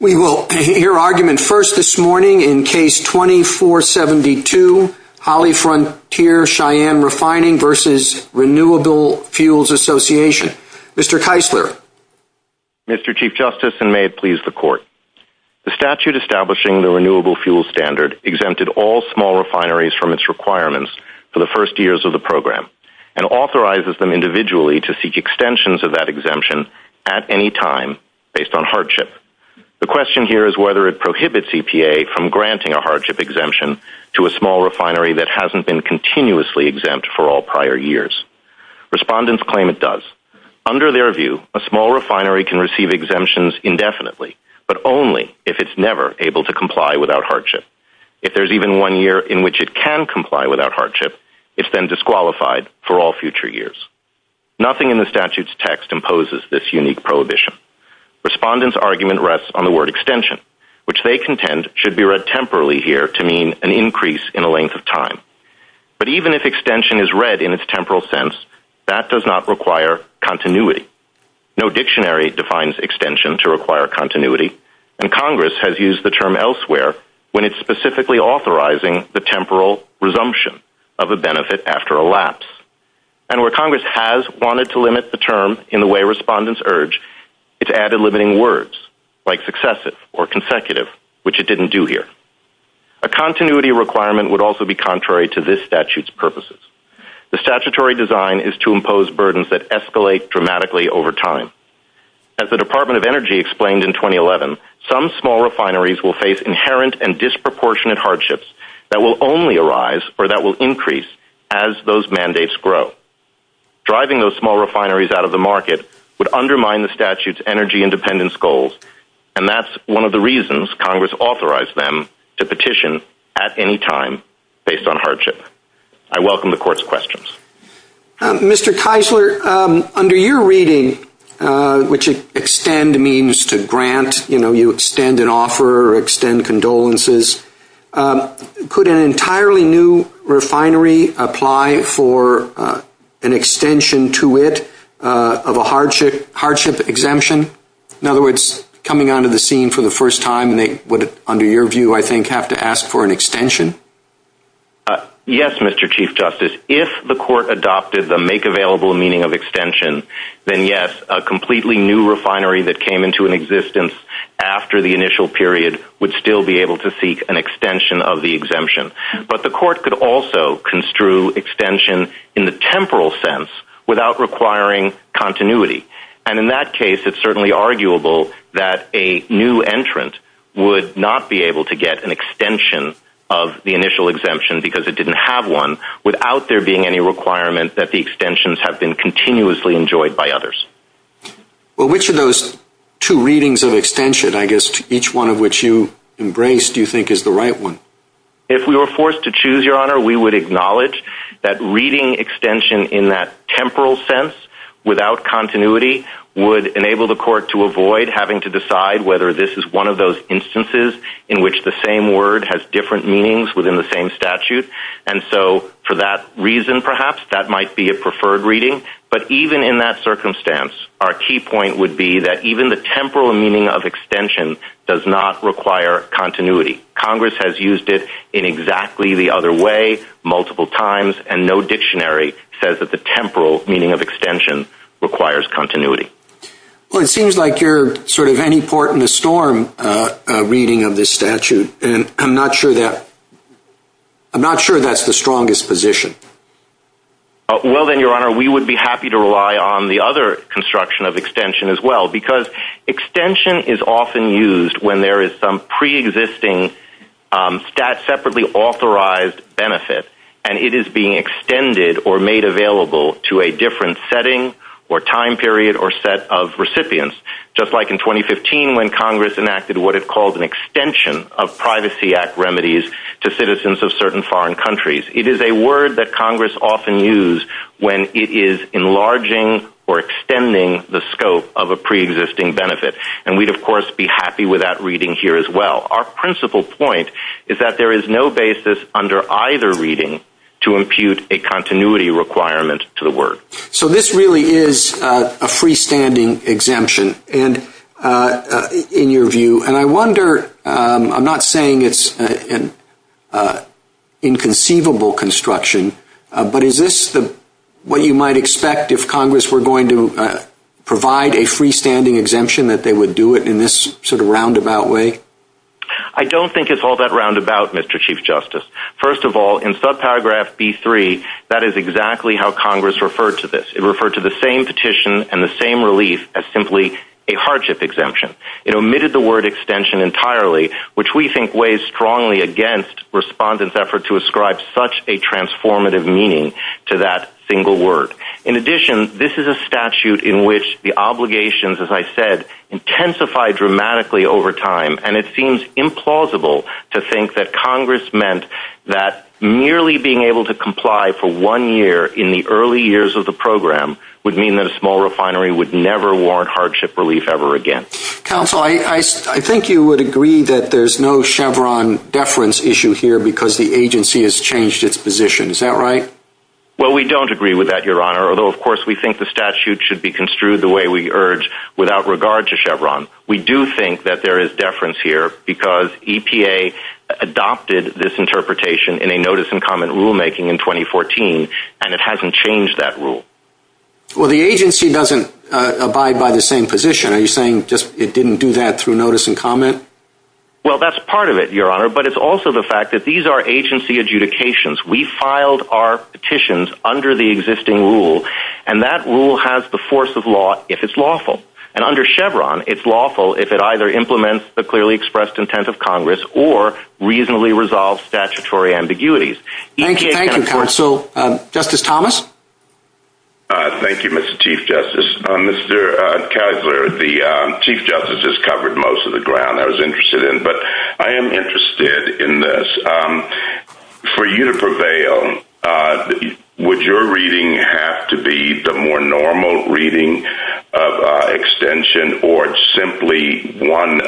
We will hear argument first this morning in Case 2472, Hollyfrontier Cheyenne Refining v. Renewable Fuels Association. Mr. Keisler. Mr. Chief Justice, and may it please the Court, the statute establishing the Renewable Fuel Standard exempted all small refineries from its requirements for the first years of the program and authorizes them individually to seek extensions of that exemption at any time based on hardship. The question here is whether it prohibits EPA from granting a hardship exemption to a small refinery that hasn't been continuously exempt for all prior years. Respondents claim it does. Under their view, a small refinery can receive exemptions indefinitely, but only if it's never able to comply without hardship. If there's even one year in which it can comply without hardship, it's then disqualified for all future years. Nothing in the statute's text imposes this unique prohibition. Respondents' argument rests on the word extension, which they contend should be read temporally here to mean an increase in the length of time. But even if extension is read in its temporal sense, that does not require continuity. No dictionary defines extension to require continuity, and Congress has used the term elsewhere when it's specifically authorizing the temporal resumption of a benefit after a lapse. And where Congress has wanted to limit the term in the way respondents urge, it's added limiting words like successive or consecutive, which it didn't do here. A continuity requirement would also be contrary to this statute's purposes. The statutory design is to impose burdens that escalate dramatically over time. As the Department of Energy explained in 2011, some small refineries will face inherent and those mandates grow. Driving those small refineries out of the market would undermine the statute's energy independence goals, and that's one of the reasons Congress authorized them to petition at any time based on hardship. I welcome the Court's questions. Mr. Keisler, under your reading, which you extend means to grant, you know, you extend an offer or condolences. Could an entirely new refinery apply for an extension to it of a hardship exemption? In other words, coming onto the scene for the first time, they would, under your view, I think, have to ask for an extension. Yes, Mr. Chief Justice. If the Court adopted the make-available meaning of extension, then yes, a completely new refinery that came into existence after the initial period would still be able to seek an extension of the exemption. But the Court could also construe extension in the temporal sense without requiring continuity. And in that case, it's certainly arguable that a new entrant would not be able to get an extension of the initial exemption because it didn't have one without there being any requirement that the extensions have been continuously enjoyed by others. Well, which of those two readings of embrace do you think is the right one? If we were forced to choose, Your Honor, we would acknowledge that reading extension in that temporal sense without continuity would enable the Court to avoid having to decide whether this is one of those instances in which the same word has different meanings within the same statute. And so, for that reason, perhaps, that might be a preferred reading. But even in that circumstance, our key point would be that even the temporal meaning of extension does not require continuity. Congress has used it in exactly the other way multiple times, and no dictionary says that the temporal meaning of extension requires continuity. Well, it seems like you're sort of any port in the storm reading of this statute, and I'm not sure that's the strongest position. Well then, Your Honor, we would be happy to rely on the other construction of extension as well, because extension is often used when there is some preexisting separately authorized benefit, and it is being extended or made available to a different setting or time period or set of recipients, just like in 2015 when Congress enacted what it called an extension of Privacy Act remedies to citizens of certain foreign countries. It is a word that Congress often used when it is enlarging or extending the scope of a preexisting benefit, and we'd, of course, be happy with that reading here as well. Our principal point is that there is no basis under either reading to impute a continuity requirement to the word. So, this really is a freestanding exemption in your view, and I wonder, I'm not saying it's an inconceivable construction, but is this what you might expect if Congress were going to provide a freestanding exemption that they would do it in this sort of roundabout way? I don't think it's all that roundabout, Mr. Chief Justice. First of all, in subparagraph B3, that is exactly how Congress referred to this. It referred to the same petition and the same relief as simply a hardship exemption. It omitted the word extension entirely, which we think weighs strongly against respondents' effort to ascribe such a transformative meaning to that single word. In addition, this is a statute in which the obligations, as I said, intensify dramatically over time, and it seems implausible to think that Congress meant that merely being able to comply for one year in the early years of the program would mean that a small refinery would never warrant hardship relief ever again. Counsel, I think you would agree that there's no Chevron deference issue here because the agency has changed its position. Is that right? Well, we don't agree with that, Your Honor, although of course we think the statute should be construed the way we urge without regard to Chevron. We do think that there is deference here because EPA adopted this interpretation in a notice and comment rulemaking in 2014, and it hasn't changed that rule. Well, the agency doesn't abide by the same position. Are you saying it didn't do that through notice and comment? Well, that's part of it, Your Honor, but it's also the fact that these are agency adjudications. We filed our petitions under the existing rule, and that rule has the force of law if it's lawful, and under Chevron, it's lawful if it either implements the clearly expressed intent of Congress or reasonably resolves statutory ambiguities. Thank you, counsel. Justice Thomas? Thank you, Mr. Chief Justice. Mr. Kessler, the Chief Justice has covered most of the ground I was interested in, but I am interested in this. For you to prevail, would your reading have to be the more normal reading of extension or simply one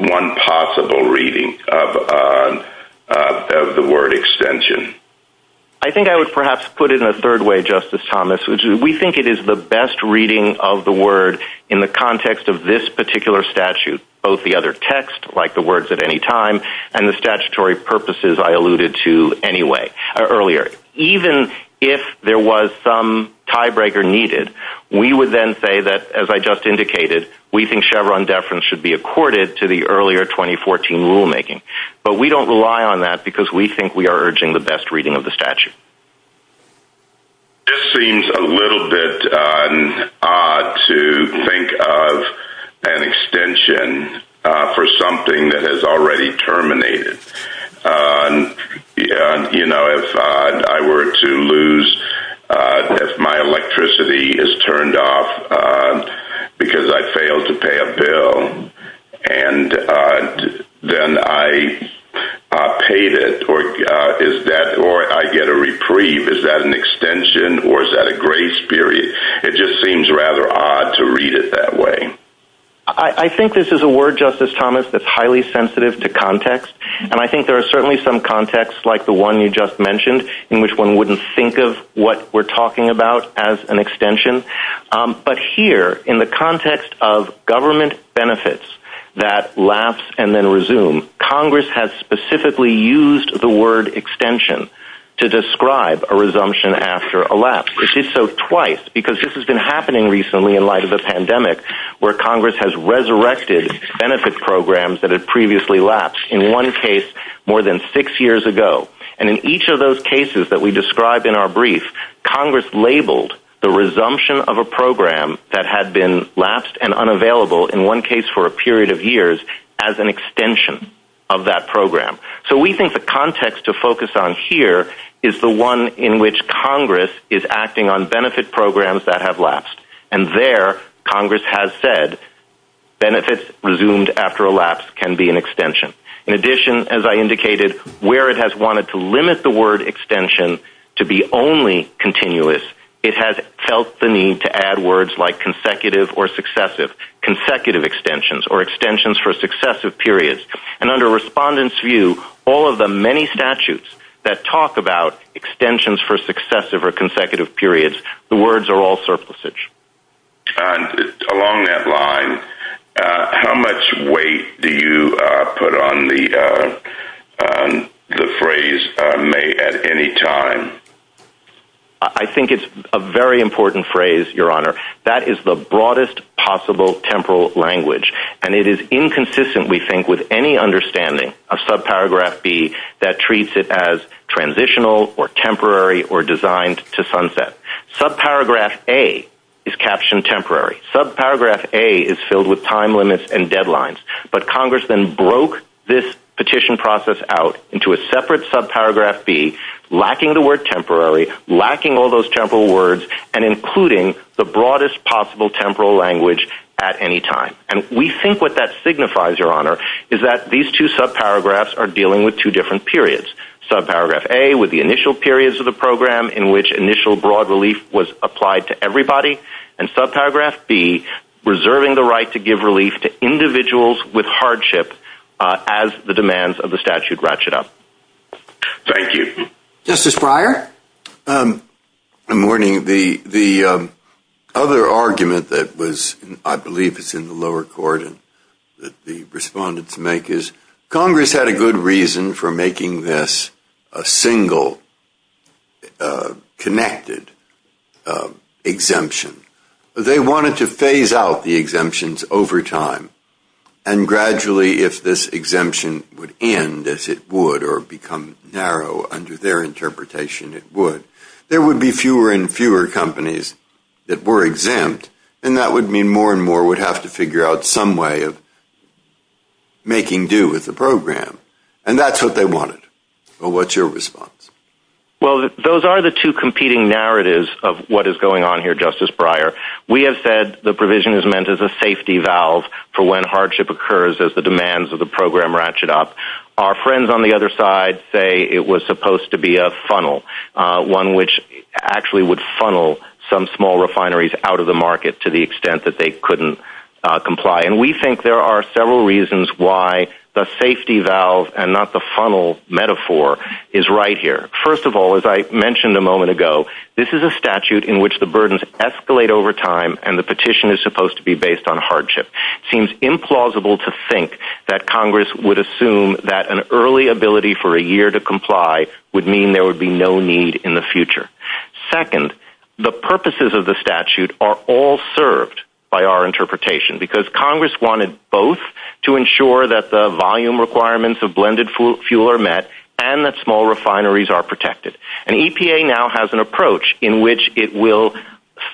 possible reading of the word extension? I think I would perhaps put it in a third way, Justice Thomas. We think it is the best reading of the word in the context of this particular statute, both the other text, like the words at any time, and the statutory purposes I alluded to earlier. Even if there was some tiebreaker needed, we would then say that, as I just indicated, we think Chevron deference should be accorded to the earlier 2014 rulemaking, but we don't rely on that because we think we are urging the best reading of the statute. This seems a little bit odd to think of an extension for something that is already terminated. You know, if I were to lose, if my electricity is turned off because I failed to pay a bill, and then I paid it, or I get a reprieve, is that an extension or is that a grace period? It just seems rather odd to read it that way. I think this is a word, Justice Thomas, that's highly sensitive to context, and I think there are certainly some contexts, like the one you just mentioned, in which one wouldn't think of what we're talking about as an extension. But here, in the context of government benefits that lapse and then resume, Congress has specifically used the word extension to describe a resumption after a lapse. It did so twice, because this has been happening recently in light of the pandemic, where Congress has resurrected benefit programs that had previously lapsed, in one case more than six years ago. And in each of those cases that we described in our brief, Congress labeled the resumption of a program that had been lapsed and unavailable, in one case for a period of years, as an extension of that program. So we think the context to focus on here is the one in which Congress is acting on benefit programs that have lapsed. And there, Congress has said, benefits resumed after a lapse can be an extension. In addition, as I indicated, where it has wanted to limit the word extension to be only continuous, it has felt the need to add words like consecutive or successive. Consecutive extensions, or extensions for successive periods. And under Respondent's view, all of the many statutes that talk about extensions for successive or consecutive periods, the words are all surplusage. Along that line, how much weight do you put on the phrase, may at any time? I think it's a very important phrase, Your Honor. That is the broadest possible temporal language. And it is inconsistent, we think, with any understanding of subparagraph B that treats it as transitional or temporary or designed to sunset. Subparagraph A is captioned temporary. Subparagraph A is filled with time limits and deadlines. But Congress then broke this petition process out into a separate subparagraph B, lacking the word temporary, lacking all those temporal words, and including the broadest possible temporal language at any time. And we think what that signifies, Your Honor, is that these two subparagraphs are dealing with two periods. Subparagraph A with the initial periods of the program in which initial broad relief was applied to everybody. And subparagraph B, reserving the right to give relief to individuals with hardship as the demands of the statute ratchet up. Thank you. Justice Breyer? Good morning. The other argument that was, I believe it's in the lower court, that the respondents make is Congress had a good reason for making this a single connected exemption. They wanted to phase out the exemptions over time. And gradually, if this exemption would end, as it would, or become narrow under their interpretation, it would, there would be fewer and fewer companies that were exempt. And that would mean more and more would have to figure out some way of making do with the program. And that's what they wanted. But what's your response? Well, those are the two competing narratives of what is going on here, Justice Breyer. We have said the provision is meant as a safety valve for when hardship occurs as the demands of the program ratchet up. Our friends on the other side say it was supposed to be a funnel, one which actually would funnel some small refineries out of the market to the comply. And we think there are several reasons why the safety valve and not the funnel metaphor is right here. First of all, as I mentioned a moment ago, this is a statute in which the burdens escalate over time and the petition is supposed to be based on hardship. Seems implausible to think that Congress would assume that an early ability for a year to comply would mean there would be no need in the future. Second, the purposes of the statute are all served by our interpretation because Congress wanted both to ensure that the volume requirements of blended fuel are met and that small refineries are protected. And EPA now has an approach in which it will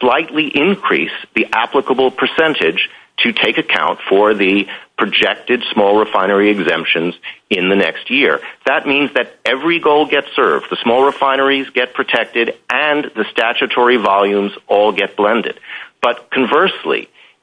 slightly increase the applicable percentage to take account for the projected small refinery exemptions in the next year. That means that every goal gets served, the small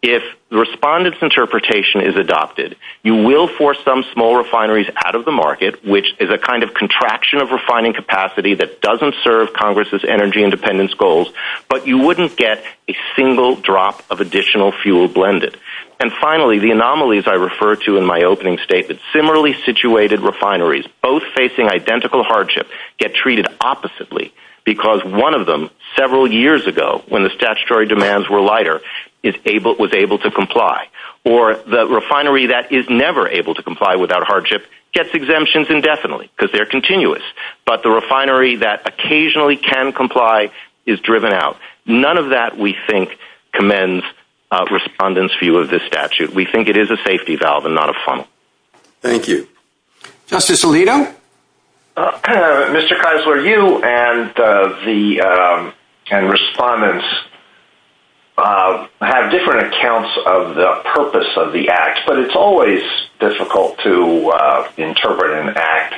If respondents' interpretation is adopted, you will force some small refineries out of the market, which is a kind of contraction of refining capacity that doesn't serve Congress's energy independence goals, but you wouldn't get a single drop of additional fuel blended. And finally, the anomalies I referred to in my opening statement, similarly situated refineries, both facing identical hardship, get treated oppositely because one of them several years ago, when the statutory demands were lighter, was able to comply. Or the refinery that is never able to comply without hardship gets exemptions indefinitely because they're continuous, but the refinery that occasionally can comply is driven out. None of that we think commends respondents' view of this statute. We think it is a safety valve and not a funnel. Thank you. Justice Alito? Well, Mr. Keisler, you and the respondents have different accounts of the purpose of the Act, but it's always difficult to interpret an Act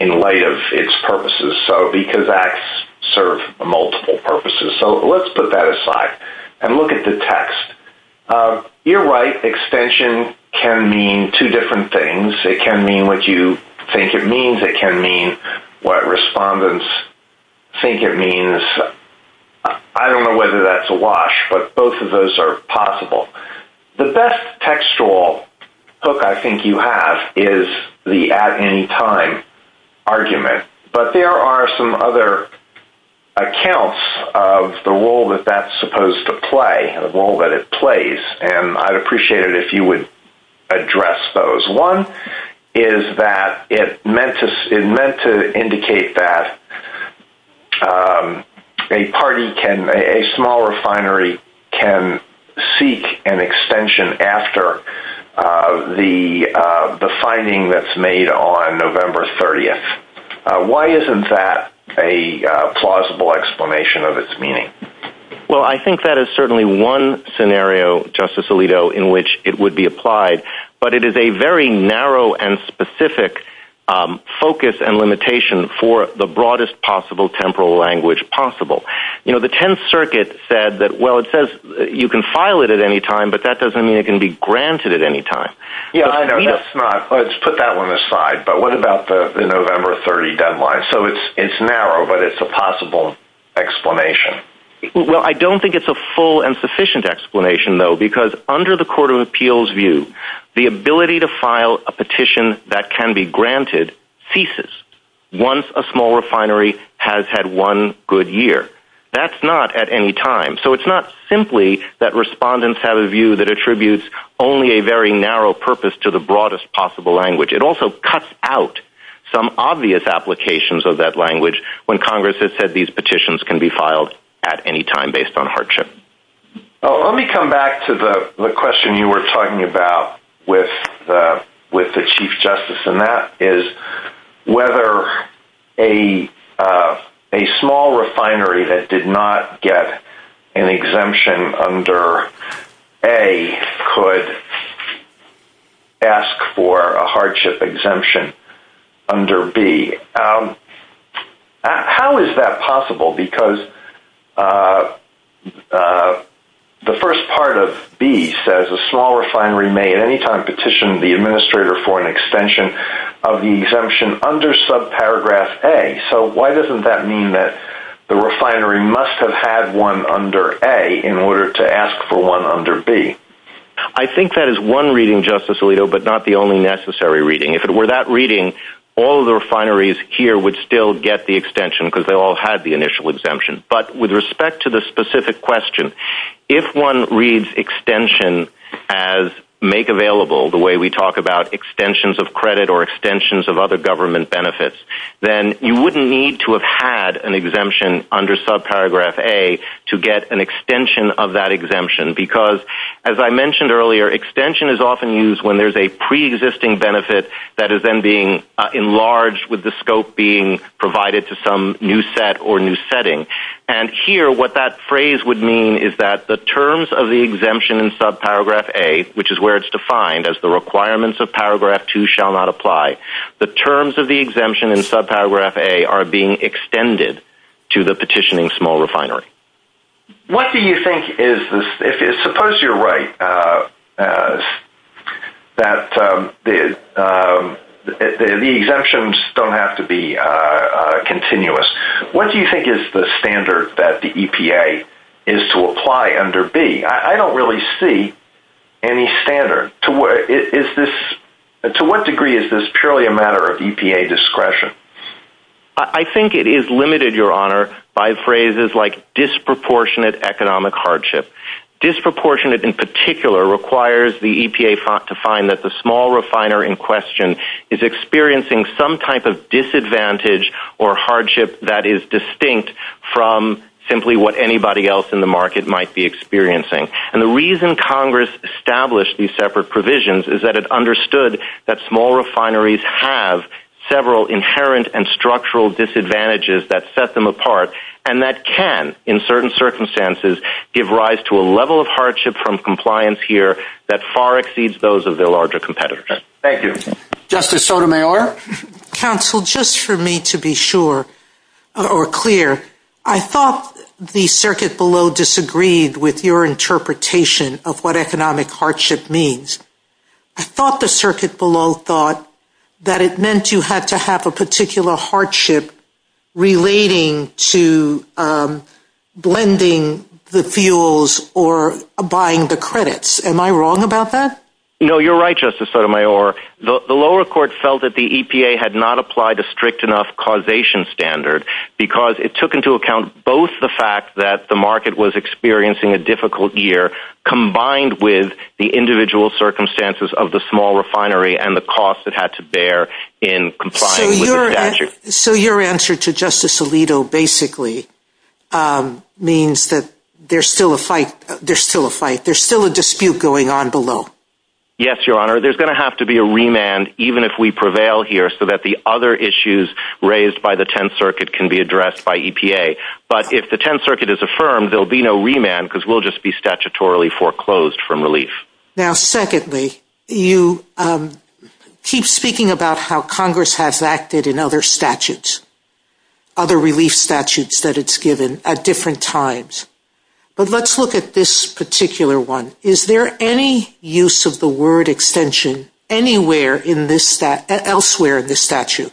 in light of its purposes, because Acts serve multiple purposes. So let's put that aside and look at the text. You're right, extension can mean two different things. It can mean what you think it means. It can mean what respondents think it means. I don't know whether that's a wash, but both of those are possible. The best textual hook I think you have is the at-any-time argument, but there are some other accounts of the role that that's supposed to play, the role that it plays, and I'd appreciate it if you would address those. One is that it meant to indicate that a small refinery can seek an extension after the finding that's made on November 30th. Why isn't that a plausible explanation of its meaning? Well, I think that is certainly one scenario, Justice Alito, in which it would be applied, but it is a very narrow and specific focus and limitation for the broadest possible temporal language possible. You know, the Tenth Circuit said that, well, it says you can file it at any time, but that doesn't mean it can be granted at any time. Yeah, I know. Let's put that one aside. But what about the November 30 deadline? So it's narrow, but it's a possible explanation. Well, I don't think it's a full and sufficient explanation, though, because under the Court of Appeals' view, the ability to file a petition that can be granted ceases once a small refinery has had one good year. That's not at any time. So it's not simply that respondents have a view that attributes only a very narrow purpose to the broadest possible language. It also cuts out some obvious applications of that language when Congress has said these petitions can be filed at any time based on hardship. Let me come back to the question you were talking about with the Chief Justice, and that is whether a small refinery that did not get an exemption under A could ask for a hardship exemption under B. How is that possible? Because the first part of B says a small refinery may at any time petition the administrator for an extension of the exemption under subparagraph A. So why doesn't that mean that the refinery must have had one under A in order to ask for one under B? I think that is one reading, Justice Alito, but not the only necessary reading. If it were that reading, all of the refineries here would still get the extension because they all had the initial exemption. But with respect to the specific question, if one reads extension as make available, the way we talk about extensions of credit or extensions of other government benefits, then you wouldn't need to have had an exemption under subparagraph A to get an extension of that exemption. Because as I mentioned earlier, extension is often used when there's a preexisting benefit that is then being enlarged with the scope being provided to some new set or new setting. And here, what that phrase would mean is that the terms of the exemption in subparagraph A, which is where it's defined as the requirements of paragraph 2 shall not apply, the terms of the exemption in subparagraph A are being extended to the petitioning small refinery. What do you think is, suppose you're right that the exemptions don't have to be continuous. What do you think is the standard that the EPA is to apply under B? I don't really see any standard. To what degree is this purely a matter of EPA discretion? I think it is limited, Your Honor, by phrases like disproportionate economic hardship. Disproportionate in particular requires the EPA to find that the small refiner in question is experiencing some type of disadvantage or hardship that is distinct from simply what anybody else in the market might be experiencing. And the reason Congress established these separate provisions is that it understood that small refineries have several inherent and structural disadvantages that set them apart, and that can, in certain circumstances, give rise to a level of hardship from compliance here that far exceeds those of their larger competitors. Thank you. Justice Sotomayor? Counsel, just for me to be sure or clear, I thought the circuit below disagreed with your interpretation of what economic hardship means. I thought the circuit below thought that it meant you had to have a particular hardship relating to blending the fuels or buying the credits. Am I wrong about that? No, you're right, Justice Sotomayor. The lower court felt that the EPA had not applied a strict enough causation standard because it took into account both the fact that the market was experiencing a difficult year combined with the individual circumstances of the small refinery and the cost it had to bear in complying with the statute. So your answer to Justice Alito basically means that there's still a fight. There's still a dispute going on below. Yes, Your Honor. There's going to have to be a dispute. I'm not saying that the 10th Circuit can be addressed by EPA, but if the 10th Circuit is affirmed, there'll be no remand because we'll just be statutorily foreclosed from relief. Now, secondly, you keep speaking about how Congress has acted in other statutes, other relief statutes that it's given at different times. But let's look at this particular one. Is there any use of the word extension anywhere elsewhere in this statute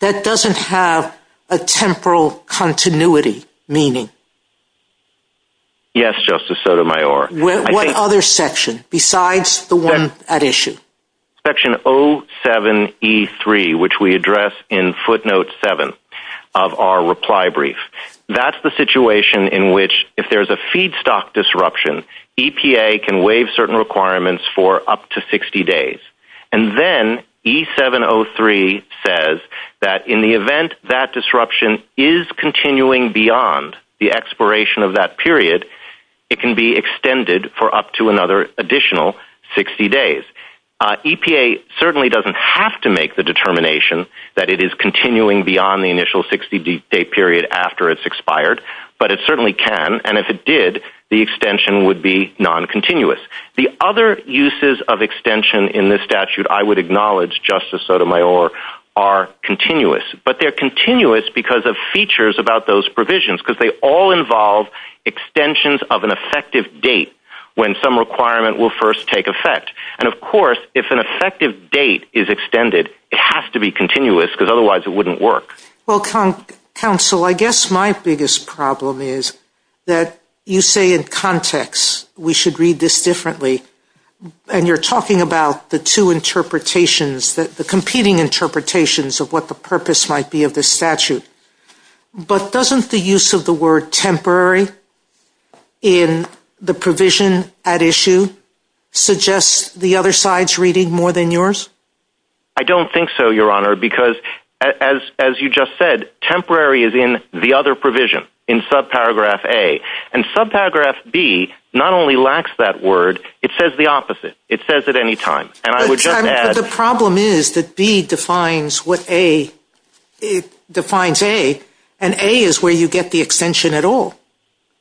that doesn't have a temporal continuity meaning? Yes, Justice Sotomayor. What other section besides the one at issue? Section 07E3, which we address in footnote 7 of our reply brief. That's the waive certain requirements for up to 60 days. And then E703 says that in the event that disruption is continuing beyond the expiration of that period, it can be extended for up to another additional 60 days. EPA certainly doesn't have to make the determination that it is continuing beyond the initial 60-day period after it's expired, but it certainly can. And if it did, the extension would be non-continuous. The other uses of extension in this statute, I would acknowledge, Justice Sotomayor, are continuous, but they're continuous because of features about those provisions because they all involve extensions of an effective date when some requirement will first take effect. And of course, if an effective date is extended, it has to be continuous because otherwise it wouldn't work. Well, counsel, I guess my biggest problem is that you say in context, we should read this differently. And you're talking about the two interpretations, the competing interpretations of what the purpose might be of this statute. But doesn't the use of the word temporary in the provision at issue suggest the other side's reading more than yours? I don't think so, Your Honor, because as you just said, temporary is in the other provision, in subparagraph A. And subparagraph B not only lacks that word, it says the opposite. It says it any time. And I would just add— The problem is that B defines what A—defines A, and A is where you get the extension at all.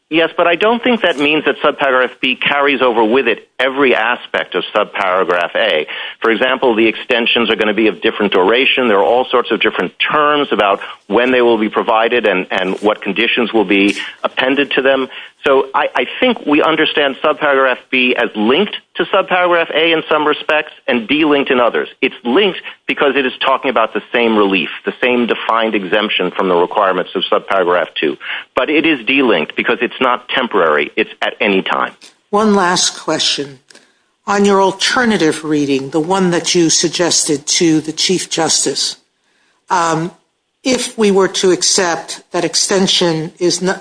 Yes, but I don't think that means that subparagraph B carries over with it every aspect of subparagraph A. For example, the extensions are going to be of different duration. There are all sorts of different terms about when they will be provided and what conditions will be appended to them. So I think we understand subparagraph B as linked to subparagraph A in some respects and delinked in others. It's linked because it is talking about the same relief, the same defined exemption from the requirements of subparagraph 2. But it is delinked because it's not temporary. It's at any time. One last question. On your alternative reading, the one that you suggested to the Chief Justice, if we were to accept that extension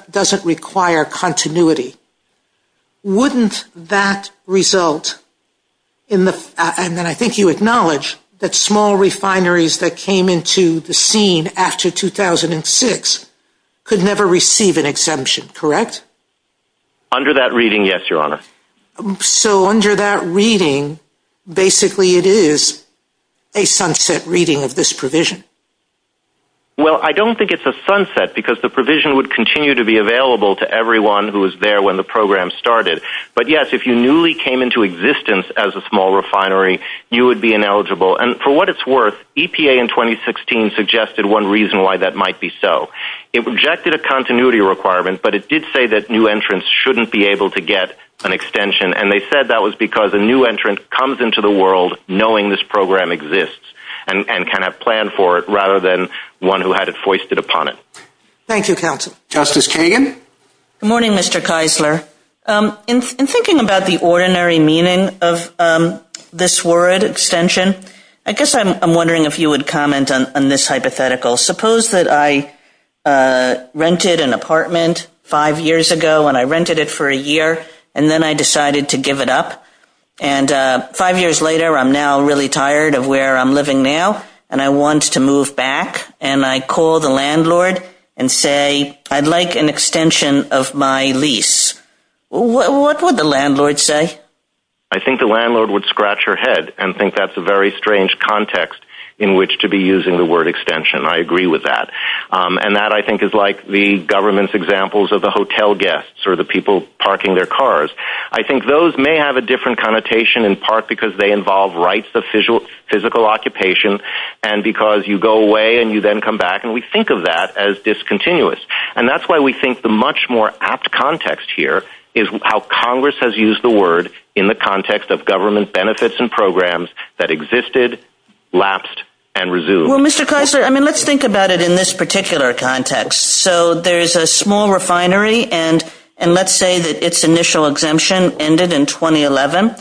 doesn't require continuity, wouldn't that result in the—and I think you acknowledge that small refineries that came into the scene after 2006 could never receive an exemption, correct? Under that reading, yes, Your Honor. So under that reading, basically it is a sunset reading of this provision. Well, I don't think it's a sunset because the provision would continue to be available to everyone who was there when the program started. But yes, if you newly came into existence as a small refinery, you would be ineligible. And for what it's worth, EPA in 2016 suggested one reason why that might be so. It rejected a continuity requirement, but it did say that new entrants shouldn't be able to get an extension. And they said that was because a new entrant comes into the world knowing this program exists and can have planned for it rather than one who had it foisted upon it. Thank you, counsel. Justice Kagan? Good morning, Mr. Keisler. In thinking about the ordinary meaning of this word, extension, I guess I'm wondering if you would comment on this hypothetical. Suppose that I rented an apartment five years ago, and I rented it for a year, and then I decided to give it up. And five years later, I'm now really tired of where I'm living now, and I want to move back. And I call the landlord and say, I'd like an extension of my lease. What would the landlord say? I think the landlord would scratch her head and think that's a very good extension. I agree with that. And that I think is like the government's examples of the hotel guests or the people parking their cars. I think those may have a different connotation in part because they involve rights of physical occupation, and because you go away and you then come back, and we think of that as discontinuous. And that's why we think the much more apt context here is how Congress has used the word in the context of government benefits and programs that existed, lapsed, and Well, Mr. Kressler, I mean, let's think about it in this particular context. So there's a small refinery, and let's say that its initial exemption ended in 2011.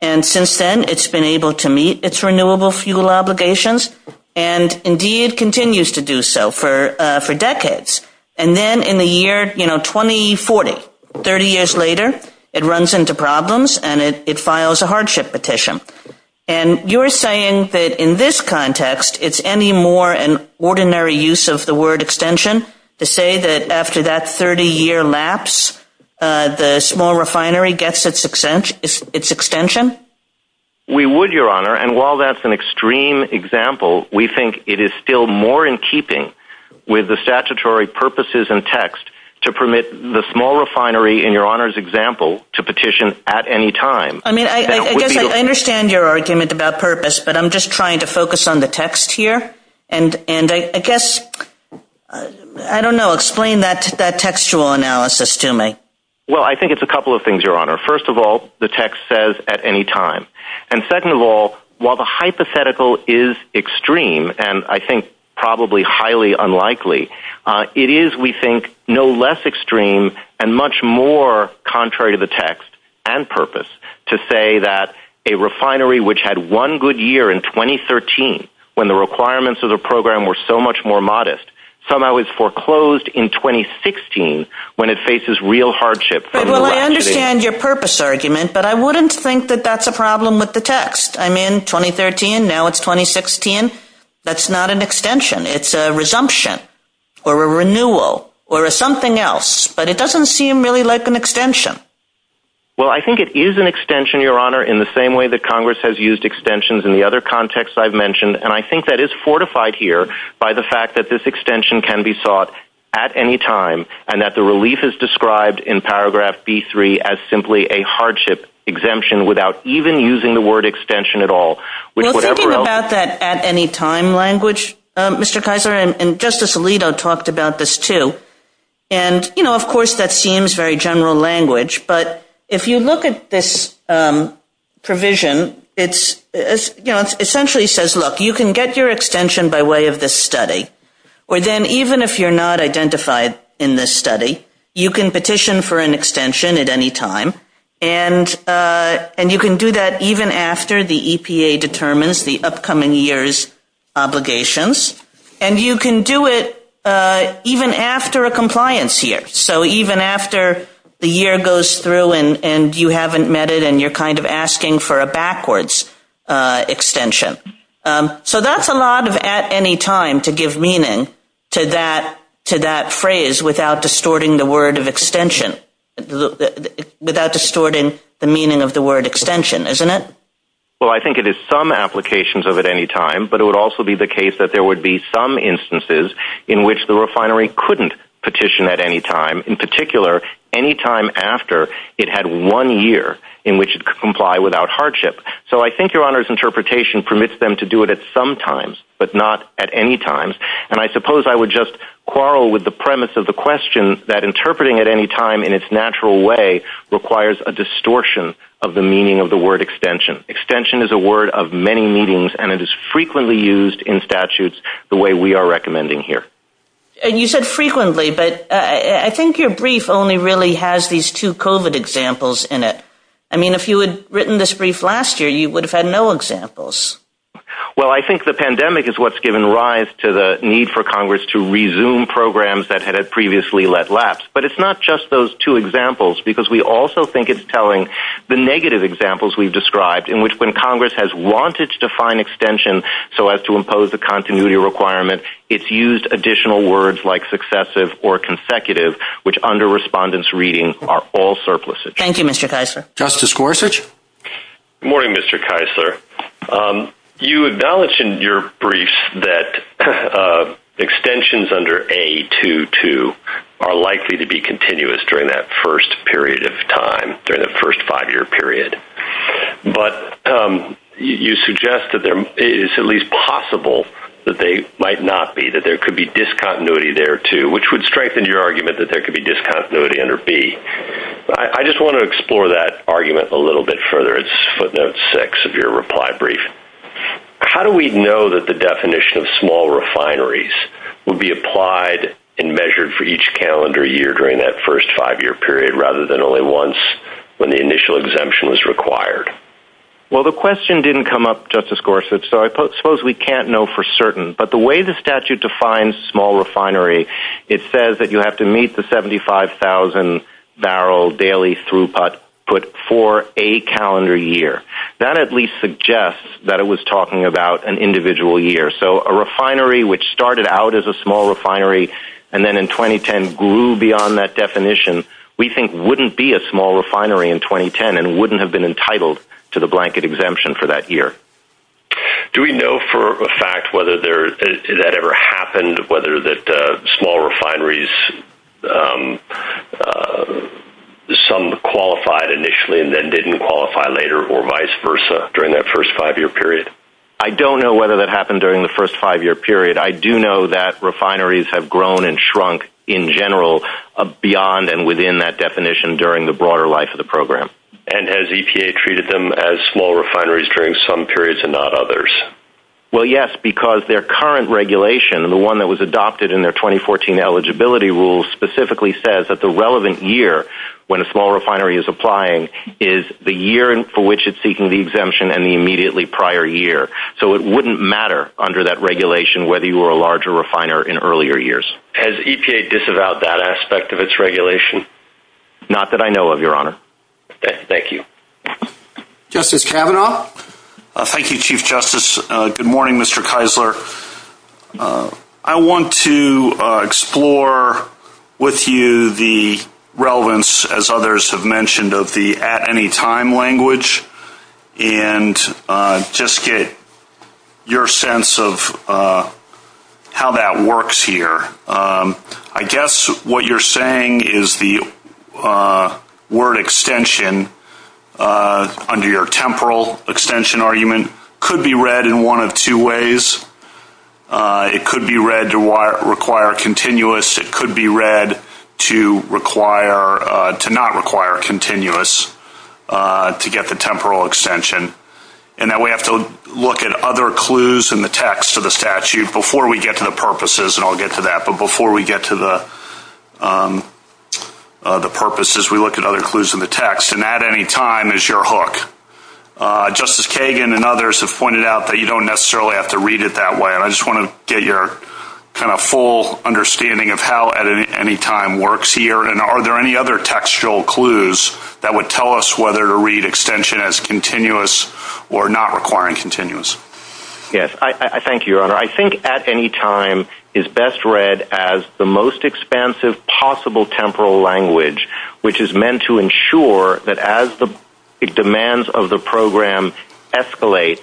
And since then, it's been able to meet its renewable fuel obligations, and indeed continues to do so for decades. And then in the year, you know, 2040, 30 years later, it runs into problems, and it files a hardship petition. And you're saying that in this context, it's any more an ordinary use of the word extension to say that after that 30-year lapse, the small refinery gets its extension? We would, Your Honor. And while that's an extreme example, we think it is still more in keeping with the statutory purposes and text to permit the small refinery in Your Honor's example to petition at any time. I mean, I understand your argument about purpose, but I'm just trying to focus on the text here. And I guess, I don't know, explain that textual analysis to me. Well, I think it's a couple of things, Your Honor. First of all, the text says at any time. And second of all, while the hypothetical is extreme, and I think probably highly unlikely, it is, we think, no less extreme and much more contrary to the text and purpose to say that a refinery which had one good year in 2013, when the requirements of the program were so much more modest, somehow is foreclosed in 2016, when it faces real hardship. Well, I understand your purpose argument, but I wouldn't think that that's a problem with the resumption, or a renewal, or something else. But it doesn't seem really like an extension. Well, I think it is an extension, Your Honor, in the same way that Congress has used extensions in the other context I've mentioned. And I think that is fortified here by the fact that this extension can be sought at any time, and that the relief is described in paragraph B-3 as simply a hardship exemption without even using the word extension at all. Well, thinking about that at any time language, Mr. Kaiser and Justice Alito talked about this too. And, you know, of course, that seems very general language. But if you look at this provision, it essentially says, look, you can get your extension by way of this study. Or then even if you're not identified in this study, you can petition for an extension at any time. And you can do that even after the EPA determines the upcoming year's obligations. And you can do it even after a compliance year. So even after the year goes through and you haven't met it, and you're kind of asking for a backwards extension. So that's a lot of at any time to give meaning to that phrase without distorting the word of extension. Without distorting the meaning of the word extension, isn't it? Well, I think it is some applications of at any time. But it would also be the case that there would be some instances in which the refinery couldn't petition at any time, in particular, any time after it had one year in which it could comply without hardship. So I think Your Honor's interpretation permits them to do it at some times, but not at any times. And I suppose I would just quarrel with the premise of the question that interpreting at any time in its natural way requires a distortion of the meaning of the word extension. Extension is a word of many meanings, and it is frequently used in statutes the way we are recommending here. You said frequently, but I think your brief only really has these two COVID examples in it. I mean, if you had written this brief last year, you would have had no examples. Well, I think the pandemic is what's given rise to the need for Congress to resume programs that had previously let lapse. But it's not just those two examples, because we also think it's telling the negative examples we've described, in which when Congress has wanted to define extension so as to impose a continuity requirement, it's used additional words like successive or consecutive, which under respondents' reading are all surpluses. Thank you, Mr. Keisler. Justice Gorsuch? Good morning, Mr. Keisler. You acknowledged in your briefs that extensions under A22 are likely to be continuous during that first period of time, during the first five-year period. But you suggest that it is at least possible that they might not be, that there could be discontinuity there too, which would I just want to explore that argument a little bit further. It's footnote six of your reply brief. How do we know that the definition of small refineries would be applied and measured for each calendar year during that first five-year period, rather than only once when the initial exemption was required? Well, the question didn't come up, Justice Gorsuch, so I suppose we can't know for certain. But the way the statute defines small refinery, it says that you have to meet the 75,000-barrel daily throughput put for a calendar year. That at least suggests that it was talking about an individual year. So a refinery which started out as a small refinery and then in 2010 grew beyond that definition, we think wouldn't be a small refinery in 2010 and wouldn't have been entitled to the blanket exemption for that year. Do we know for a fact whether that ever happened, whether that small refineries, some qualified initially and then didn't qualify later or vice versa during that first five-year period? I don't know whether that happened during the first five-year period. I do know that refineries have grown and shrunk in general beyond and within that definition during the broader life of the program. And has EPA treated them as small refineries during some periods and not others? Well, yes, because their current regulation, the one that was adopted in their 2014 eligibility rules, specifically says that the relevant year when a small refinery is applying is the year for which it's seeking the exemption and the immediately prior year. So it wouldn't matter under that regulation whether you were a large refiner in earlier years. Has EPA disavowed that aspect of its regulation? Not that I know of, Your Honor. Thank you. Justice Kavanaugh? Thank you, Chief Justice. Good morning, Mr. Keisler. I want to explore with you the relevance, as others have mentioned, of the at-any-time language and just get your sense of how that works here. I guess what you're saying is the word extension, under your temporal extension argument, could be read in one of two ways. It could be read to require continuous. It could be read to not require continuous to get the temporal extension. And that we have to look at other clues in the text of the statute before we get to the purposes. And I'll get to that. But before we get to the purposes, we look at other clues in the text. And at-any-time is your hook. Justice Kagan and others have pointed out that you don't necessarily have to read it that way. And I just want to get your kind of full understanding of how at-any-time works here. And are there any other textual clues that would tell us whether to read extension as continuous or not requiring continuous? Yes. Thank you, Your Honor. I think at-any-time is best read as the most expansive possible temporal language, which is meant to ensure that as the demands of the program escalate,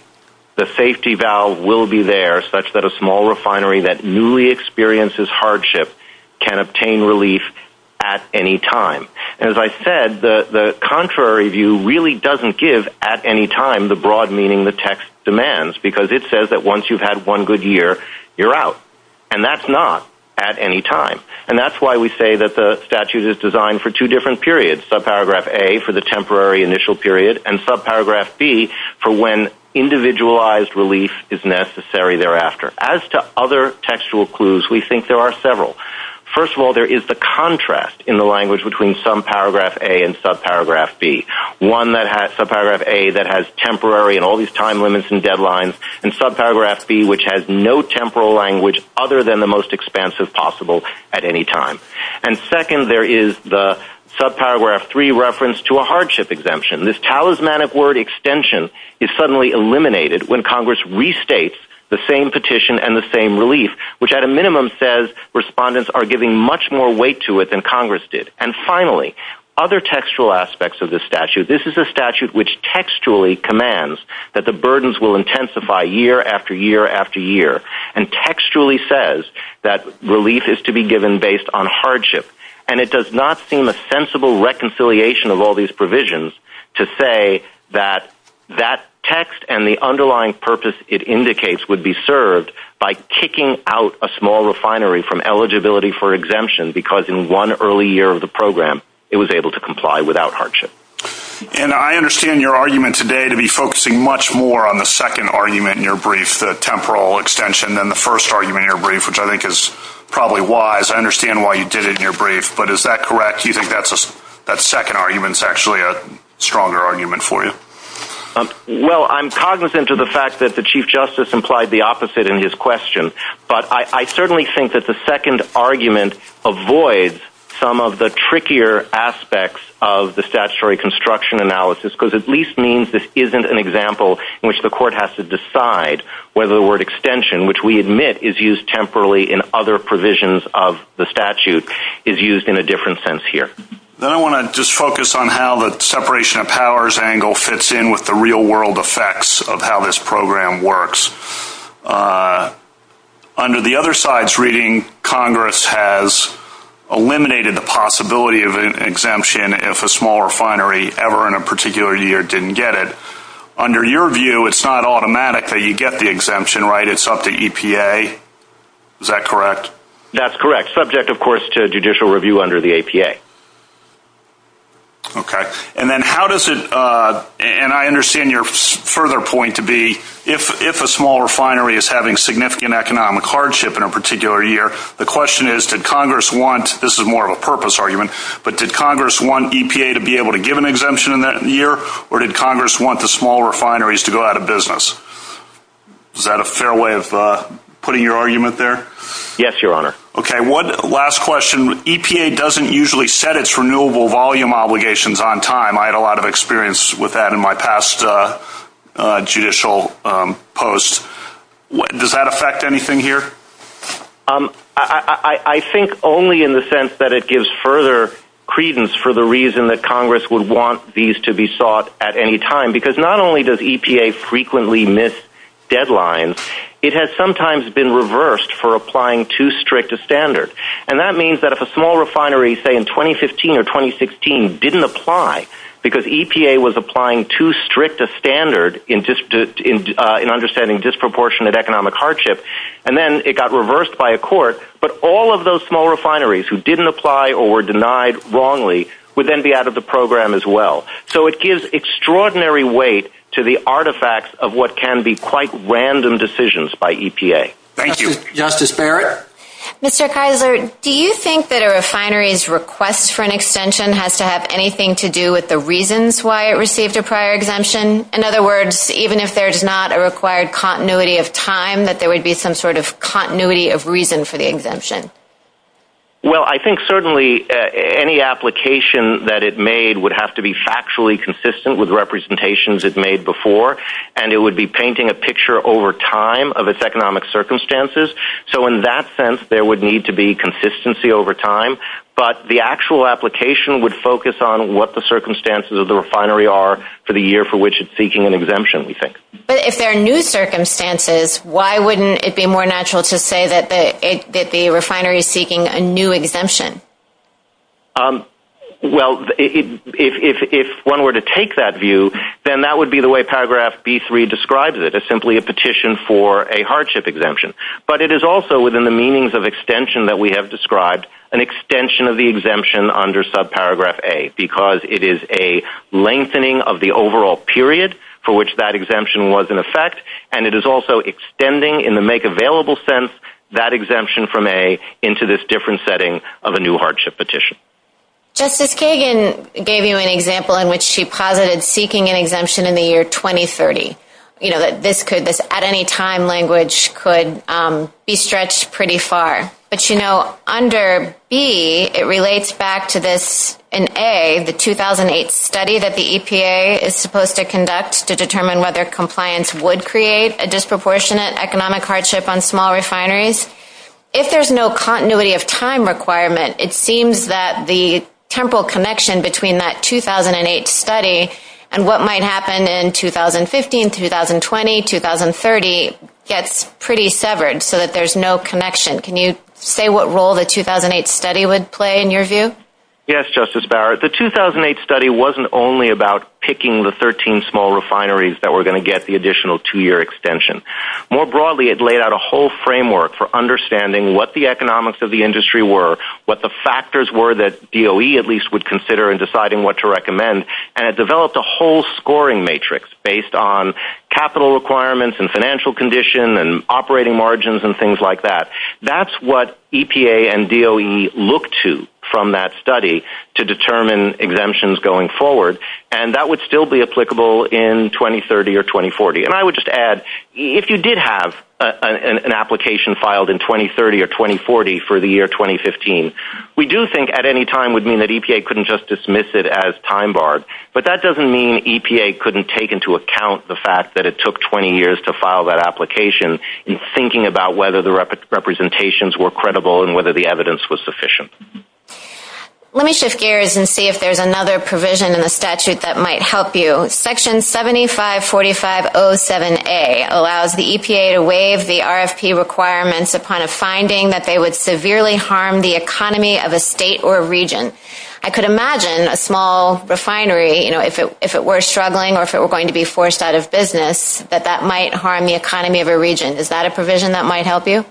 the safety valve will be there such that a small refinery that newly experiences hardship can obtain relief at any time. And as I said, the contrary view really doesn't give at-any-time the broad meaning the text demands, because it says that once you've had one good year, you're out. And that's not at-any-time. And that's why we say that the statute is designed for two different periods, subparagraph A for the temporary initial period and subparagraph B for when individualized relief is necessary thereafter. As to other textual clues, we think there are several. First of all, there is the contrast in the language between subparagraph A and subparagraph B, one that has subparagraph A that has temporary and all these time limits and deadlines, and subparagraph B, which has no temporal language other than the most expansive possible at-any-time. And second, there is the subparagraph 3 reference to a hardship exemption. This talismanic word extension is suddenly eliminated when Congress restates the same petition and the same relief, which at a minimum says respondents are giving much more weight to than Congress did. And finally, other textual aspects of the statute. This is a statute which textually commands that the burdens will intensify year after year after year and textually says that relief is to be given based on hardship. And it does not seem a sensible reconciliation of all these provisions to say that that text and the underlying purpose it indicates would be served by kicking out a small refinery from eligibility for exemption because in one early year of the program it was able to comply without hardship. And I understand your argument today to be focusing much more on the second argument in your brief, the temporal extension, than the first argument in your brief, which I think is probably wise. I understand why you did it in your brief, but is that correct? Do you think that second argument is actually a stronger argument for you? Well, I'm cognizant of the fact that the Chief Justice implied the opposite in his question, but I certainly think that the second argument avoids some of the trickier aspects of the statutory construction analysis because at least means this isn't an example in which the court has to decide whether the word extension, which we admit is used temporarily in other provisions of the statute, is used in a different sense here. Then I want to just focus on how the separation of powers angle fits in with the real-world effects of how this program works. Under the other side's reading, Congress has eliminated the possibility of an exemption if a small refinery ever in a particular year didn't get it. Under your view, it's not automatic that you get the exemption, right? It's up to EPA. Is that correct? That's correct, subject, of course, to judicial review under the EPA. Okay, and I understand your further point to be if a small refinery is having significant economic hardship in a particular year, the question is, did Congress want—this is more of a purpose argument—but did Congress want EPA to be able to give an exemption in that year, or did Congress want the small refineries to go out of business? Is that a fair way of putting your argument there? Yes, Your Honor. Okay, one last question. EPA doesn't usually set its renewable volume obligations on time. I had a lot of experience with that in my past judicial posts. Does that affect anything here? I think only in the sense that it gives further credence for the reason that Congress would want these to be sought at any time, because not only does EPA frequently miss deadlines, it has sometimes been reversed for applying too strict a standard. And that means that if a small refinery, say in 2015 or 2016, didn't apply because EPA was applying too strict a standard in understanding disproportionate economic hardship, and then it got reversed by a court, but all of those small refineries who didn't apply or were denied wrongly would then be out of the program as well. So it gives extraordinary weight to the artifacts of what can be quite random decisions by EPA. Thank you. Justice Barrett? Mr. Keisler, do you think that a refinery's request for an extension has to have anything to do with the reasons why it received a prior exemption? In other words, even if there's not a required continuity of time, that there would be some sort of continuity of reason for the exemption? Well, I think certainly any application that it made would have to be factually consistent with representations it made before, and it would be painting a picture over time of its economic circumstances. So in that sense, there would need to be consistency over time, but the actual application would focus on what the circumstances of the refinery are for the year for which it's seeking an exemption, we think. But if there are new circumstances, why wouldn't it be more natural to say that the refinery is seeking a new exemption? Well, if one were to take that view, then that would be the way Paragraph B3 describes it as simply a petition for a hardship exemption. But it is also within the meanings of extension that we have described, an extension of the exemption under subparagraph A, because it is a lengthening of the overall period for which that exemption was in effect, and it is also extending in the make-available sense that exemption from A into this different setting of a new hardship petition. Justice Kagan gave you an example in which she posited seeking an exemption in the year 2030, you know, that this could, this at-any-time language could be stretched pretty far. But you know, under B, it relates back to this, in A, the 2008 study that the EPA is supposed to conduct to determine whether compliance would create a disproportionate economic hardship on small refineries. If there's no continuity of time requirement, it seems that the temporal connection between that 2008 study and what might happen in 2015, 2020, 2030 gets pretty severed, so that there's no connection. Can you say what role the 2008 study would play in your view? Yes, Justice Barrett. The 2008 study wasn't only about picking the 13 small refineries that were going to get the additional two-year extension. More broadly, it laid out a whole framework for understanding what the economics of the industry were, what the factors were that DOE at least would consider in deciding what to recommend, and it developed a whole scoring matrix based on capital requirements and financial condition and operating margins and things like that. That's what EPA and DOE look to from that study to determine exemptions going forward, and that would still be applicable in 2030 or 2040. And I would just add, if you did have an application filed in 2030 or 2040 for the year 2015, we do think at-any-time would mean that EPA couldn't just dismiss it as time-barred, but that doesn't mean EPA couldn't take into account the fact that it took 20 years to file that application in thinking about whether the representations were credible and whether the evidence was sufficient. Let me shift gears and see if there's another provision in the statute that might help you. Section 7545.07a allows the EPA to waive the RFP requirements upon a finding that they would I could imagine a small refinery, if it were struggling or if it were going to be forced out of business, that that might harm the economy of a region. Is that a provision that might help you?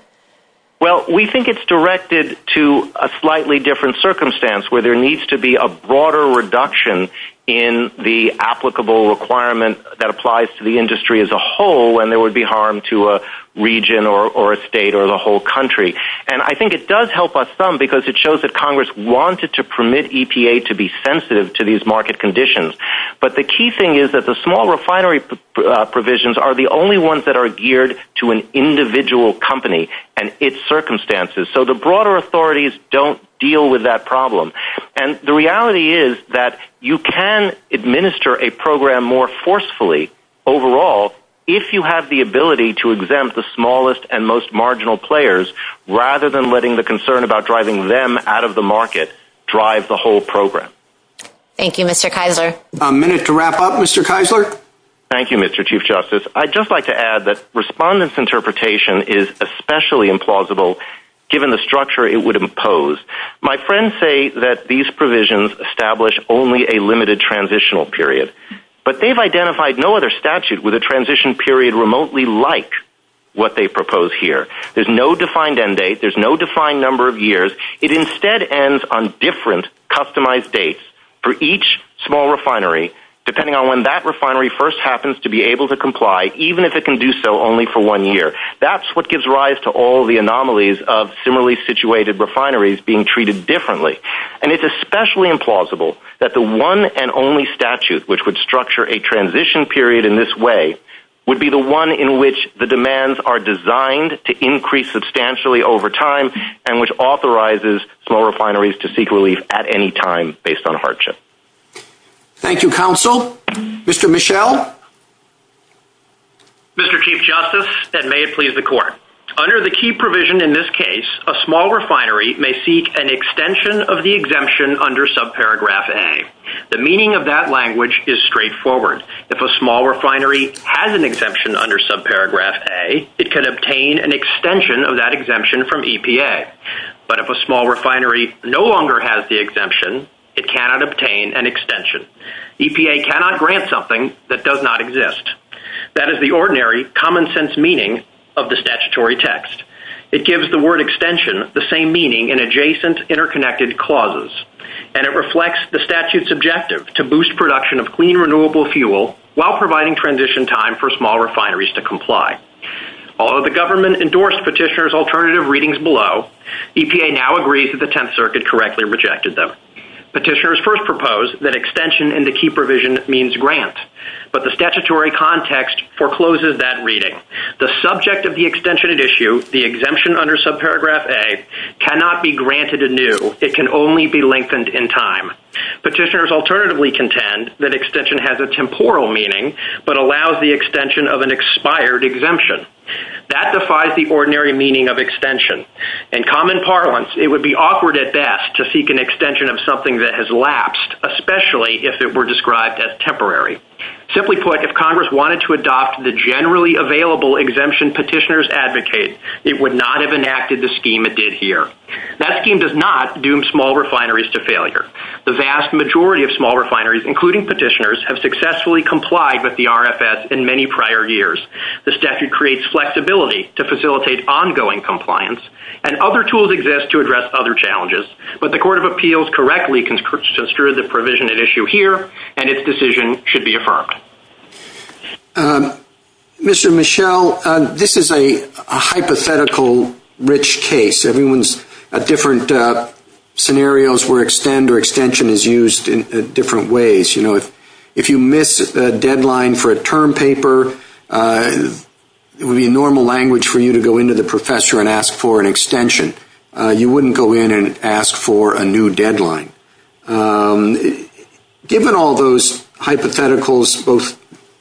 Well, we think it's directed to a slightly different circumstance where there needs to be a broader reduction in the applicable requirement that applies to the industry as a whole when there would be harm to a region or a state or the whole country. And I think it does help us some because it shows that Congress wanted to permit EPA to be sensitive to these market conditions. But the key thing is that the small refinery provisions are the only ones that are geared to an individual company and its circumstances. So the broader authorities don't deal with that problem. And the reality is that you can administer a program more forcefully overall if you have the ability to exempt the smallest and most rather than letting the concern about driving them out of the market drive the whole program. Thank you, Mr. Keisler. A minute to wrap up, Mr. Keisler. Thank you, Mr. Chief Justice. I'd just like to add that respondents' interpretation is especially implausible given the structure it would impose. My friends say that these provisions establish only a limited transitional period, but they've identified no other statute with there's no defined number of years. It instead ends on different customized dates for each small refinery, depending on when that refinery first happens to be able to comply, even if it can do so only for one year. That's what gives rise to all the anomalies of similarly situated refineries being treated differently. And it's especially implausible that the one and only statute which would structure a transition period in this way would be the one in which the demands are designed to increase substantially over time and which authorizes small refineries to seek relief at any time based on hardship. Thank you, counsel. Mr. Michel. Mr. Chief Justice, and may it please the court. Under the key provision in this case, a small refinery may seek an extension of the exemption under subparagraph A. The meaning of that language is straightforward. If a small refinery has an exemption under subparagraph A, it can obtain an extension of that exemption from EPA. But if a small refinery no longer has the exemption, it cannot obtain an extension. EPA cannot grant something that does not exist. That is the ordinary common sense meaning of the statutory text. It gives the word extension the same meaning in adjacent interconnected clauses. And it reflects the statute's objective to boost production of clean renewable fuel while providing transition time for small refineries to comply. Although the government endorsed petitioner's alternative readings below, EPA now agrees that the Tenth Circuit correctly rejected them. Petitioners first proposed that extension in the key provision means grant. But the statutory context forecloses that reading. The subject of the extension at issue, the exemption under subparagraph A, cannot be granted anew. It can only be lengthened in time. Petitioners alternatively contend that extension has a expired exemption. That defies the ordinary meaning of extension. In common parlance, it would be awkward at best to seek an extension of something that has lapsed, especially if it were described as temporary. Simply put, if Congress wanted to adopt the generally available exemption petitioners advocate, it would not have enacted the scheme it did here. That scheme does not doom small refineries to failure. The vast majority of small refineries, including petitioners, have successfully complied with the RFS in many prior years. This statute creates flexibility to facilitate ongoing compliance, and other tools exist to address other challenges. But the Court of Appeals correctly conscripts us through the provision at issue here, and its decision should be affirmed. Mr. Michel, this is a hypothetical rich case. Everyone's different scenarios where extend or deadline for a term paper. It would be normal language for you to go into the professor and ask for an extension. You wouldn't go in and ask for a new deadline. Given all those hypotheticals, both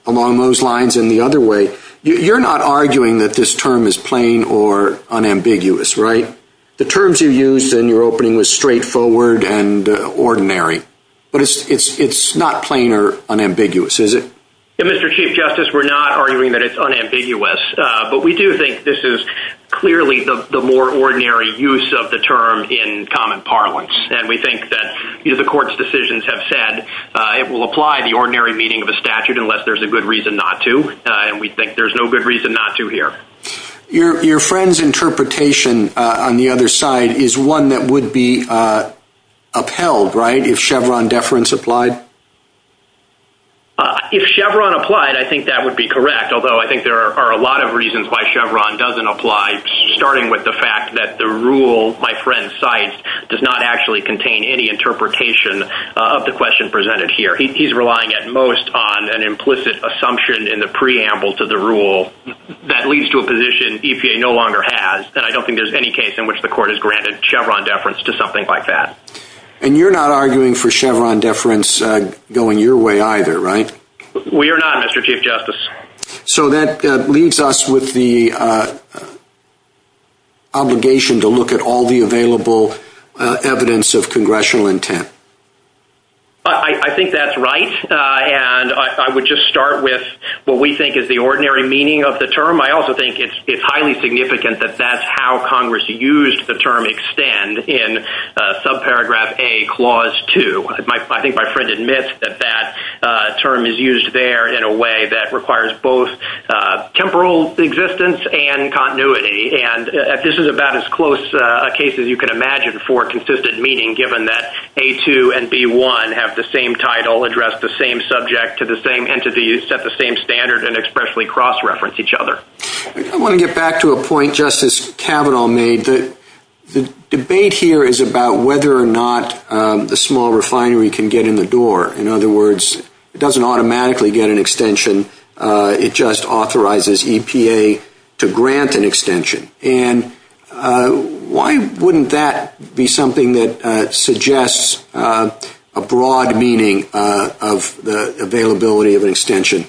along those lines and the other way, you're not arguing that this term is plain or unambiguous, right? The terms you used in your opening were straightforward and ordinary. But it's not plain or unambiguous, is it? Mr. Chief Justice, we're not arguing that it's unambiguous, but we do think this is clearly the more ordinary use of the term in common parlance. And we think that the court's decisions have said it will apply the ordinary meaning of a statute unless there's a good reason not to. And we think there's no good reason not to here. Your friend's interpretation on the other side is one that would be upheld, right, if Chevron deference applied? If Chevron applied, I think that would be correct, although I think there are a lot of reasons why Chevron doesn't apply, starting with the fact that the rule my friend cites does not actually contain any interpretation of the question presented here. He's relying at most on an implicit assumption in the preamble to the rule that leads to a position EPA no longer has. And I don't think there's any case in which the court has granted Chevron deference to something like that. And you're not arguing for Chevron deference going your way either, right? We are not, Mr. Chief Justice. So that leaves us with the obligation to look at all the available evidence of congressional intent. I think that's right. And I would just start with what we think is the ordinary meaning of the term. I also think it's highly significant that that's how Congress used the term extend in subparagraph A clause 2. I think my friend admits that that term is used there in a way that requires both temporal existence and continuity. And this is about as close a case as you can imagine for consistent meaning, given that A2 and B1 have the same title, address the same subject to the same entity, set the same standard, and expressly cross-reference each other. I want to get back to a point Justice Kavanaugh made, that the debate here is about whether or not the small refinery can get in the door. In other words, it doesn't automatically get an extension. It just authorizes EPA to grant an extension. And why wouldn't that be something that suggests a broad meaning of the availability of an extension?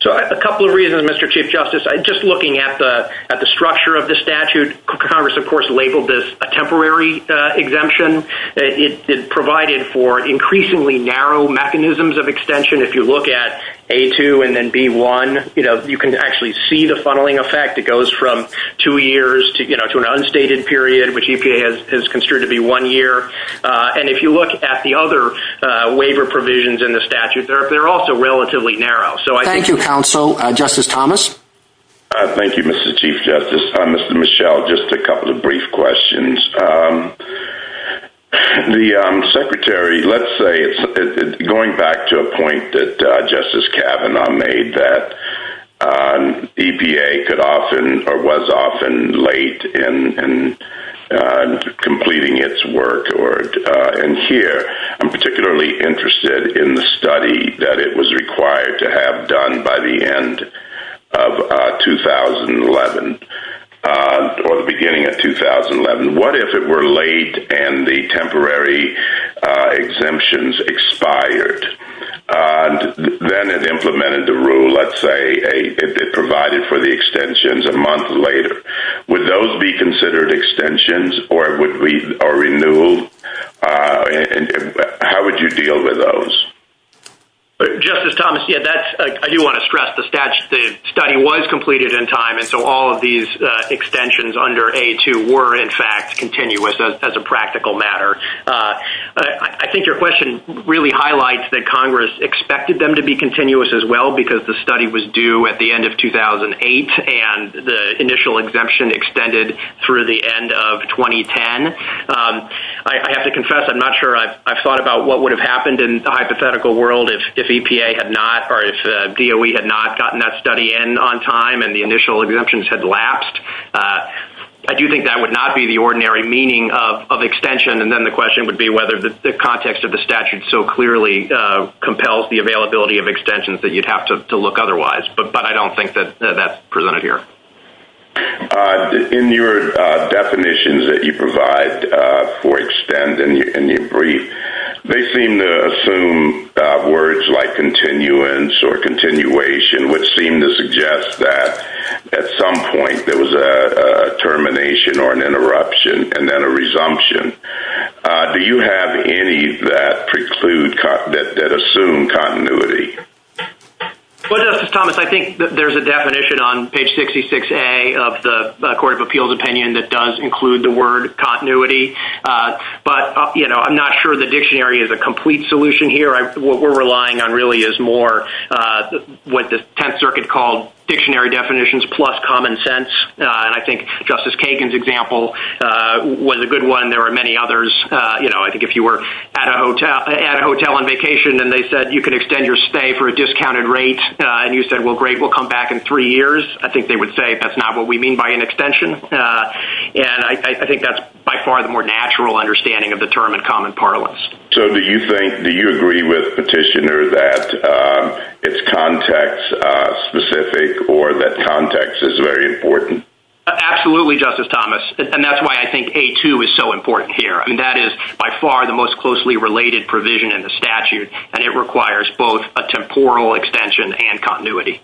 So a couple of reasons, Mr. Chief Justice. Just looking at the structure of the statute, Congress, of course, labeled this a temporary exemption. It provided for increasingly narrow mechanisms of extension. If you look at A2 and then B1, you can actually see the funneling effect. It goes from two years to an unstated period, which EPA has considered to be one year. And if you look at the other waiver provisions in the statute, they're also relatively narrow. Thank you, counsel. Justice Thomas? Thank you, Mr. Chief Justice. Mr. Michel, just a couple of brief questions. The Secretary, let's say, going back to a point that Justice Kavanaugh made, that was often late in completing its work. And here, I'm particularly interested in the study that it was required to have done by the end of 2011, or the beginning of 2011. What if it were late and the temporary exemptions expired? Then it implemented the rule, let's say, provided for the extensions a month later. Would those be considered extensions or renewed? How would you deal with those? Justice Thomas, I do want to stress the study was completed in time, and so all of these extensions under A2 were, in fact, continuous as a practical matter. I think your question really highlights that Congress expected them to be continuous as well because the study was due at the end of 2008 and the initial exemption extended through the end of 2010. I have to confess, I'm not sure I've thought about what would have happened in the hypothetical world if EPA had not, or if DOE had not gotten that study in on time and the initial exemptions had lapsed. I do think that would not be the ordinary meaning of extension. And then the question would be whether the context of the extensions that you'd have to look otherwise, but I don't think that that's presented here. In your definitions that you provide for extend and you brief, they seem to assume words like continuance or continuation, which seem to suggest that at some point there was a termination or an extension. Justice Thomas, I think there's a definition on page 66A of the Court of Appeals opinion that does include the word continuity, but I'm not sure the dictionary is a complete solution here. What we're relying on really is more what the Tenth Circuit called dictionary definitions plus common sense. I think Justice Kagan's example was a good one. There were many extenders say for a discounted rate and you said, well, great, we'll come back in three years. I think they would say that's not what we mean by an extension. And I think that's by far the more natural understanding of the term in common parlance. So do you think, do you agree with petitioner that it's context specific or that context is very important? Absolutely, Justice Thomas. And that's why I think A2 is so important here. I mean, that is by far the most closely related provision in the statute and it requires both a temporal extension and continuity.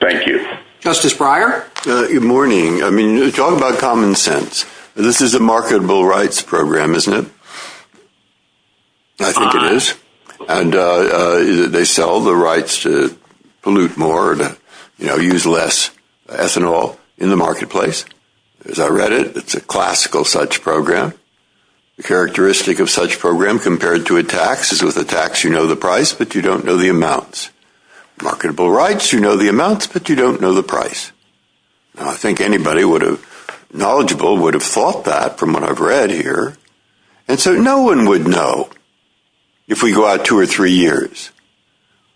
Thank you. Justice Breyer. Good morning. I mean, you're talking about common sense. This is a marketable rights program, isn't it? I think it is. And they sell the rights to pollute more, you know, use less ethanol in the marketplace. As I read it, it's a classical such program. The characteristic of such program compared to a tax is with a tax, you know, the price, but you don't know the amounts. Marketable rights, you know, the amounts, but you don't know the price. I think anybody would have knowledgeable would have thought that from what I've read here. And so no one would know if we go out two or three years,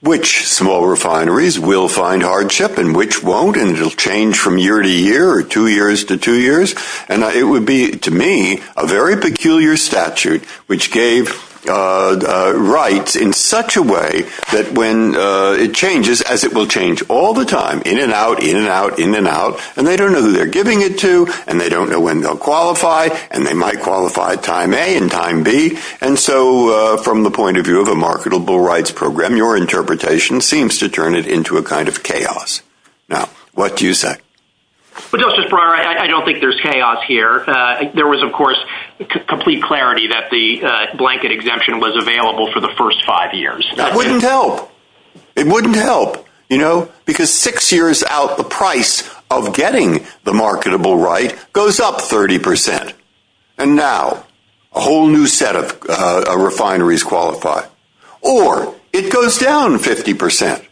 which small refineries will find hardship and which won't, and it'll change from year to year or two years to two years. And it would be to me a very peculiar statute, which gave rights in such a way that when it changes as it will change all the time in and out, in and out, in and out. And they don't know who they're giving it to and they don't know when they'll qualify and they might qualify time A and time B. And so from the point of view of a marketable rights program, your interpretation seems to turn it into a kind of chaos. Now, what do you say? Well, I don't think there's chaos here. There was of course, complete clarity that the blanket exemption was available for the first five years. That wouldn't help. It wouldn't help, you know, because six years out, the price of getting the marketable right goes up 30%. And now a whole new set of refineries qualify, or it goes down 50%.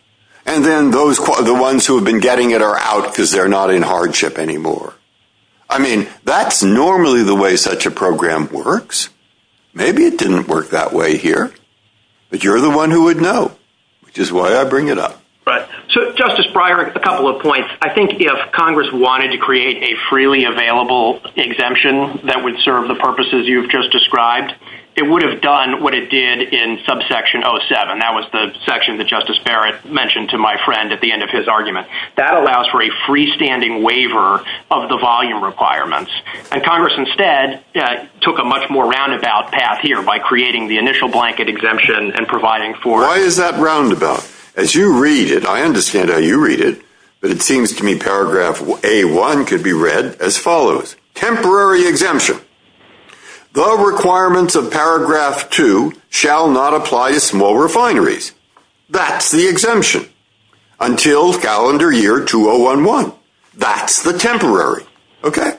And then those are the ones who have been getting it are out because they're not in hardship anymore. I mean, that's normally the way such a program works. Maybe it didn't work that way here, but you're the one who would know, which is why I bring it up. Right. So Justice Breyer, a couple of points. I think if Congress wanted to create a freely available exemption that would serve the purposes you've just described, it would have done what it did in subsection 07. That was the section that Justice Barrett mentioned to my friend at the end of his argument. That allows for a freestanding waiver of the volume requirements. And Congress instead took a much more roundabout path here by creating the initial blanket exemption and providing for- Why is that roundabout? As you read it, I understand how you read it, but it seems to me paragraph A1 could be read as follows. Temporary exemption. The requirements of paragraph two shall not apply to small refineries. That's the exemption until calendar year 2011. That's the temporary. Okay.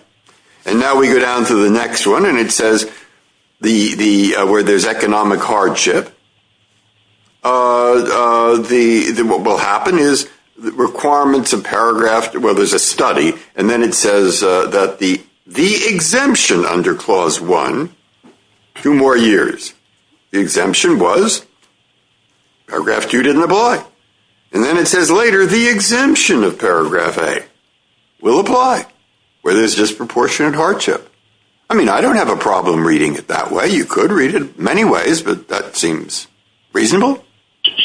And now we go down to the next one and it says where there's economic hardship. What will happen is the requirements of paragraph, where there's a study, and then it says that the exemption under clause one, two more years, the exemption was paragraph two didn't apply. And then it says later the exemption of paragraph A will apply where there's disproportionate hardship. I mean, I don't have a problem reading it that way. You could read it many ways, but that seems reasonable.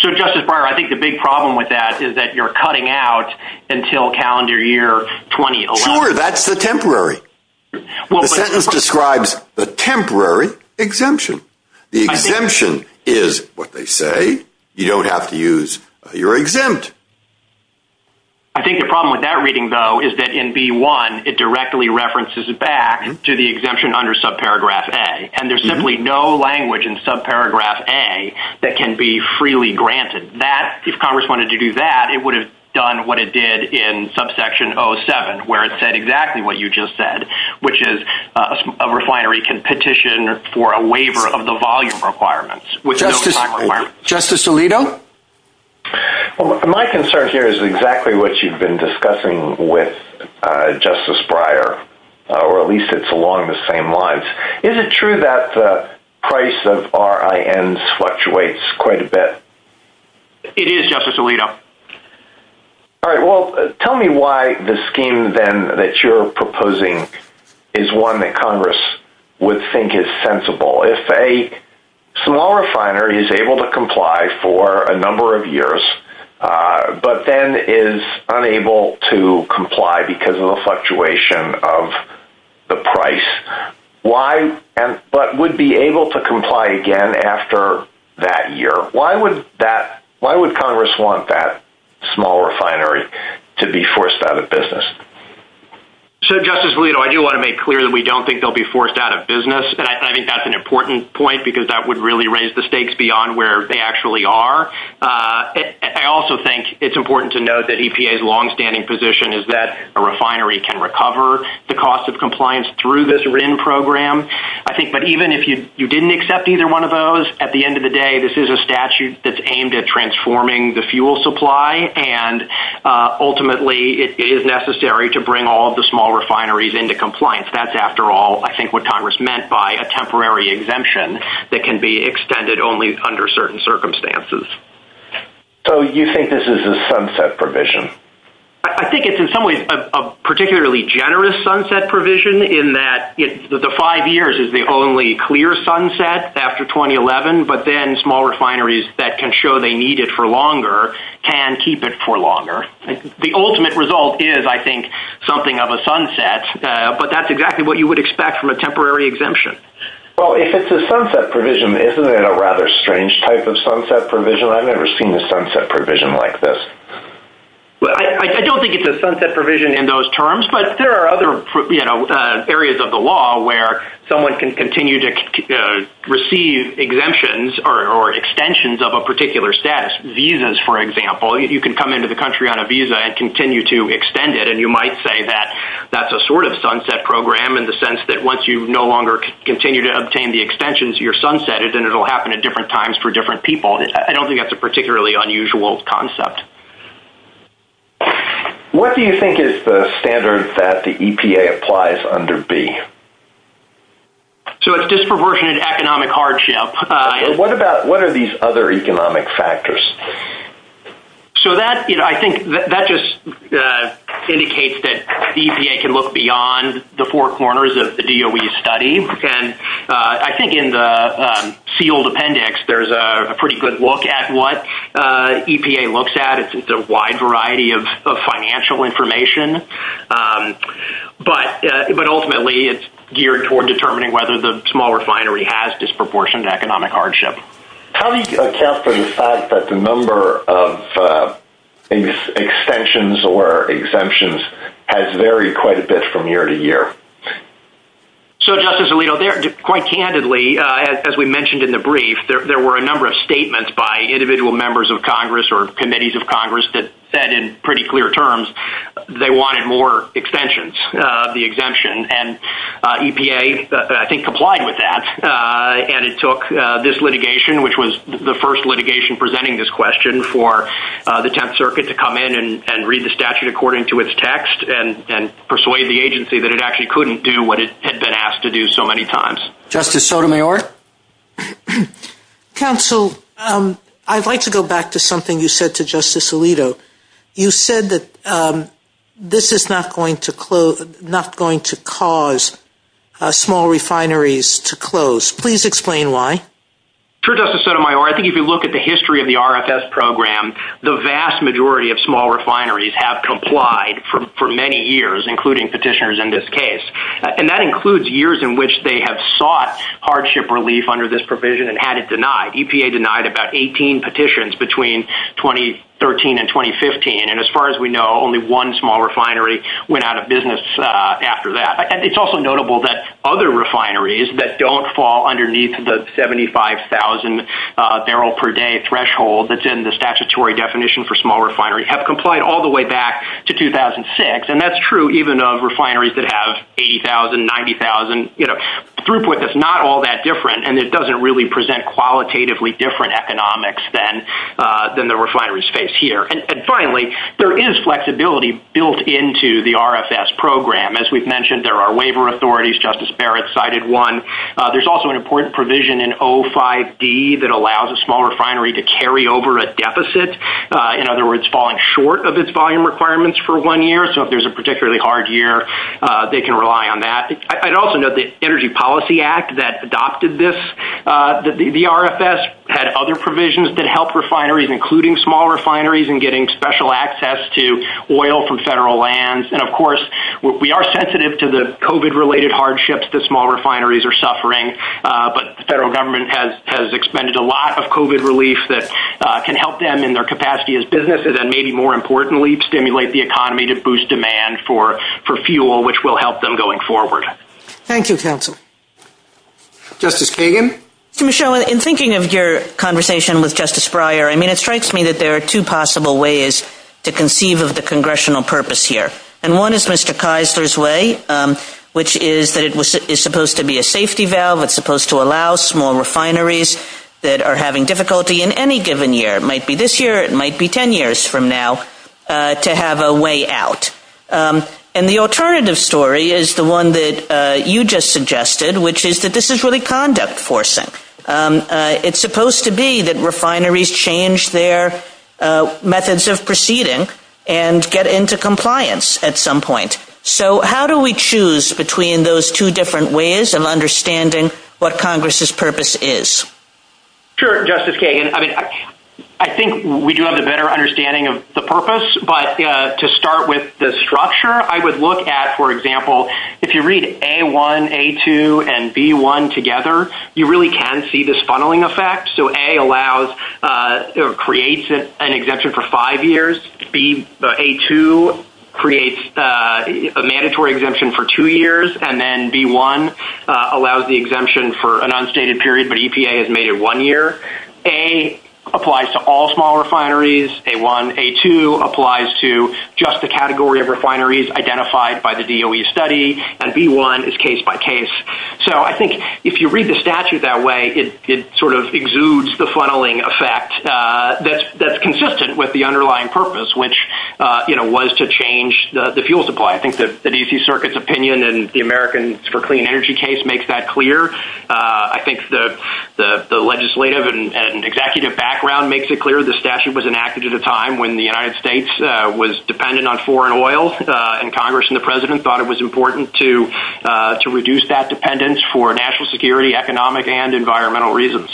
So Justice Breyer, I think the big problem with that is that you're cutting out until calendar year 2011. Sure, that's the temporary. The sentence describes the temporary exemption. The exemption is what they say. You don't have to use your exempt. I think the problem with that reading though is that in B1, it directly references it back to the exemption under subparagraph A. And there's simply no language in subparagraph A that can be freely granted. If Congress wanted to do that, it would have done what it did in subsection 07, where it said exactly what you just said, which is a refinery can petition for a waiver of the volume requirements. Justice Alito? My concern here is exactly what you've been discussing with Justice Breyer, or at least it's along the same lines. Is it true that the price of RINs fluctuates quite a bit? It is, Justice Alito. All right. Well, tell me why the scheme then that you're proposing is one that Congress would think is sensible. If a small refiner is able to comply for a number of years, but then is unable to comply because of the fluctuation of the price, but would be able to comply again after that year, why would Congress want that small refinery to be forced out of business? Justice Alito, I do want to make clear that we don't think they'll be forced out of business. And I think that's an important point because that would really raise the stakes beyond where they actually are. I also think it's important to note that EPA's longstanding position is that a refinery can recover the cost of compliance through this RIN program. But even if you didn't accept either one of those, at the end of the day, this is a statute that's aimed at transforming the fuel supply. And ultimately, it is necessary to bring all of the small refineries into compliance. That's after all, I think, what Congress meant by a temporary exemption that can be extended only under certain circumstances. So you think this is a sunset provision? I think it's in some ways a particularly generous sunset provision in that the five years is the only clear sunset after 2011, but then small refineries that can show they need it for longer can keep it for longer. The ultimate result is, I think, something of a sunset, but that's exactly what you would expect from a temporary exemption. Well, if it's a sunset provision, isn't it a rather strange type of sunset provision? I've never seen a sunset provision like this. Well, I don't think it's a sunset provision in those terms, but there are other areas of the law where someone can continue to receive exemptions or extensions of a particular status. Visas, for example, you can come into the country on a visa and continue to extend it. And you might say that that's a sort of sunset program in the sense that once you no longer continue to obtain the extensions, you're sunsetted and it'll happen at different times for different people. I don't think that's a particularly unusual concept. What do you think is the standard that the EPA applies under B? So it's disproportionate economic hardship. What about, what are these other economic factors? So that, you know, I think that just indicates that the EPA can look beyond the four corners of the DOE study. And I think in the sealed appendix, there's a pretty good look at what EPA looks at. It's a wide variety of financial information, but ultimately it's geared toward determining whether the small refinery has disproportionate economic hardship. How do you assess or decide that the number of extensions or exemptions has varied quite a bit from year to year? So Justice Alito, quite candidly, as we mentioned in the brief, there were a number of statements by individual members of Congress or committees of Congress that said in pretty clear terms, they wanted more extensions, the exemption and EPA, I think, complied with that. And it took this litigation, which was the first litigation presenting this question for the 10th circuit to come in and read the statute according to its text and persuade the agency that it actually couldn't do what it had been asked to do so many times. Justice Sotomayor? Counsel, I'd like to go back to something you said to Justice Alito. You said that this is not going to cause small refineries to close. Please explain why. Sure, Justice Sotomayor. I think if you look at the history of the RFS program, the vast majority of small refineries have complied for many years, including petitioners in this case. And that includes years in which they have sought hardship relief under this provision and had it denied. EPA denied about 18 petitions between 2013 and 2015. And as far as we know, only one small refinery went out of business after that. It's also notable that other refineries that don't fall underneath the 75,000 barrel per day threshold that's in the statutory definition for small refinery have complied all the way back to 2006. And that's true even of refineries that have 80,000, 90,000, you know, throughput that's not all that different. And it doesn't really present qualitatively different economics than the refineries face here. And finally, there is flexibility built into the RFS program. As we've mentioned, there are waiver authorities, Justice Barrett cited one. There's also an important provision in O5D that allows a small refinery to carry over a deficit. In other words, falling short of its volume requirements for one year. So if there's a particularly hard year, they can rely on that. I'd also note the Energy Policy Act that adopted this, the RFS had other provisions that help refineries, including small refineries and getting special access to oil from federal lands. And of course, we are sensitive to the COVID-related hardships that small refineries are suffering. But the federal government has expended a lot of COVID relief that can help them in their capacity as businesses, and maybe more importantly, stimulate the economy to boost demand for fuel, which will help them going forward. Thank you, counsel. Justice Kagan? Michelle, in thinking of your conversation with Justice Breyer, I mean, it strikes me that there are two possible ways to conceive of the congressional purpose here. And one is Mr. Eisler's way, which is that it was supposed to be a safety valve, it's supposed to allow small refineries that are having difficulty in any given year, it might be this year, it might be 10 years from now, to have a way out. And the alternative story is the one that you just suggested, which is that this is really conduct forcing. It's supposed to be that at some point. So how do we choose between those two different ways of understanding what Congress's purpose is? Sure, Justice Kagan. I mean, I think we do have a better understanding of the purpose. But to start with the structure, I would look at, for example, if you read A1, A2, and B1 together, you really can see this funneling effect. So A creates an exemption for five years, A2 creates a mandatory exemption for two years, and then B1 allows the exemption for an unstated period, but EPA has made it one year. A applies to all small refineries, A1, A2 applies to just the category of refineries identified by the DOE study, and B1 is case by case. So I think if you read the statute that way, it sort of exudes the funneling effect that's consistent with the underlying purpose, which was to change the fuel supply. I think that the DC Circuit's opinion and the Americans for Clean Energy case makes that clear. I think the legislative and executive background makes it clear the statute was enacted at a time when the United States was dependent on foreign oil, and Congress and the President thought it was important to reduce that dependence for national security, economic, and environmental reasons.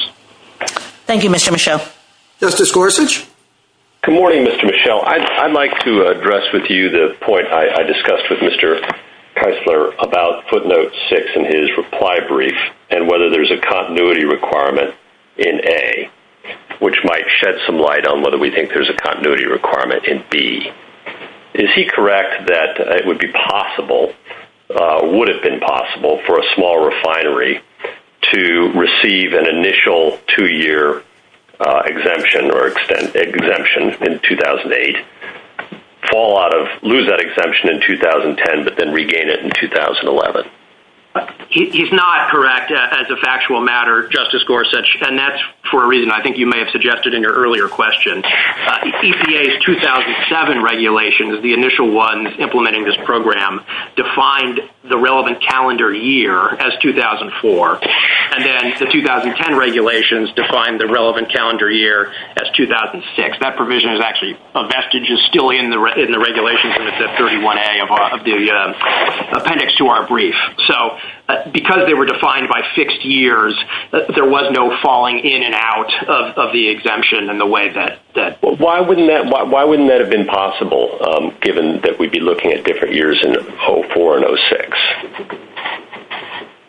Thank you, Mr. Michel. Justice Gorsuch? Good morning, Mr. Michel. I'd like to address with you the point I discussed with Mr. Keisler about footnote 6 in his reply brief and whether there's a continuity requirement in A, which might shed some light on whether we think there's a continuity requirement in B. Is he correct that it would be possible for a small refinery to receive an initial two-year exemption in 2008, fall out of, lose that exemption in 2010, but then regain it in 2011? He's not correct as a factual matter, Justice Gorsuch, and that's for a reason I think you may have suggested in your earlier question. The EPA's 2007 regulations, the initial ones implementing this program, defined the relevant calendar year as 2004, and then the 2010 regulations defined the relevant calendar year as 2006. That provision is actually still in the regulations of the 31A of the appendix to our brief. So because they were defined by fixed years, there was no falling in and out of the exemption in the way that... Why wouldn't that have been possible, given that we'd be looking at different years in 04 and 06?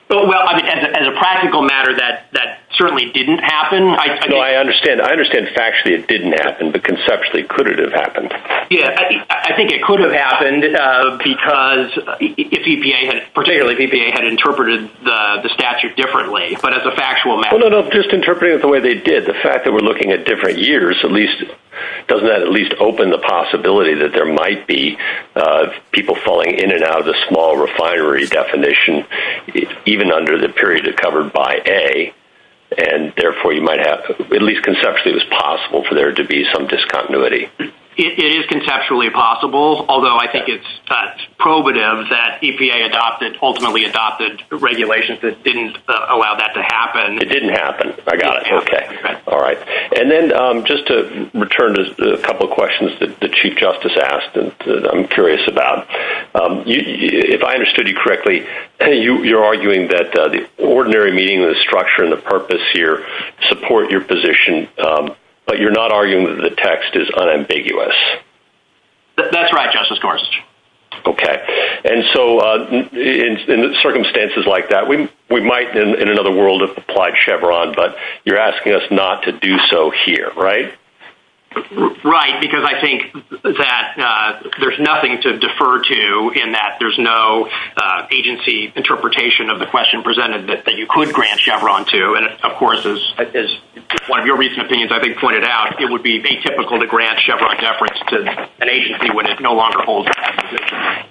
Well, as a practical matter, that certainly didn't happen. I understand factually it didn't happen, but conceptually, could it have happened? Yeah, I think it could have happened because EPA, particularly EPA, had interpreted the statute differently, but as a factual matter... No, no, no, just interpret it the way they did. The fact that we're looking at different years, doesn't that at least open the possibility that there might be people falling in and out of the small refinery definition, even under the period they're covered by A, and therefore you might have... At least conceptually, it was possible for there to be some discontinuity. It is conceptually possible, although I think it's probative that EPA ultimately adopted regulations that didn't allow that to happen. It didn't happen. I got it. Okay. All right. And then just to return to a couple of questions, the Chief Justice asked, and I'm curious about, if I understood you correctly, and you're arguing that the ordinary meaning of the structure and the purpose here support your position, but you're not arguing that the text is unambiguous. That's right, Justice Gorsuch. Okay. And so in circumstances like that, we might in another world have applied Chevron, but you're asking us not to do so here, right? Right, because I think that there's nothing to defer to in that there's no agency interpretation of the question presented that you could grant Chevron to. And of course, as one of your recent opinions I think pointed out, it would be atypical to grant Chevron deference to an agency when it no longer holds that position.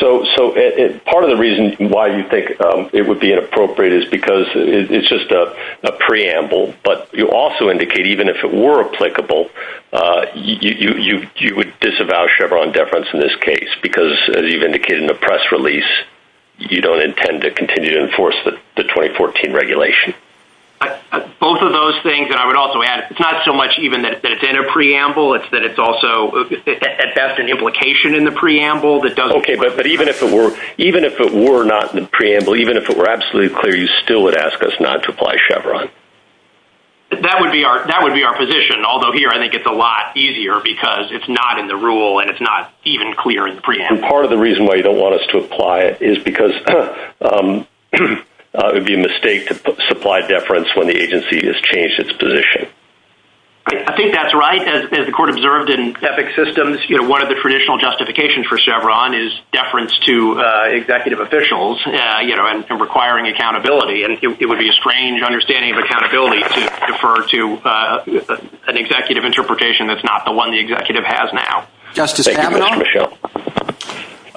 So part of the reason why you think it would be inappropriate is because it's just a preamble, but you also indicate even if it were applicable, you would disavow Chevron deference in this case, because as you've indicated in the press release, you don't intend to continue to enforce the 2014 regulation. Both of those things, and I would also add, it's not so much even that it's in a preamble, it's that it's also at best an implication in the preamble that doesn't- But even if it were not in the preamble, even if it were absolutely clear, you still would ask us not to apply Chevron. That would be our position, although here I think it's a lot easier because it's not in the rule and it's not even clear in the preamble. Part of the reason why you don't want us to apply it is because it would be a mistake to supply deference when the agency has changed its position. I think that's right. As the court observed in ethics systems, one of the traditional justifications for Chevron is deference to executive officials and requiring accountability. It would be a strange understanding of accountability to defer to an executive interpretation that's not the one the executive has now. Justice Kavanaugh?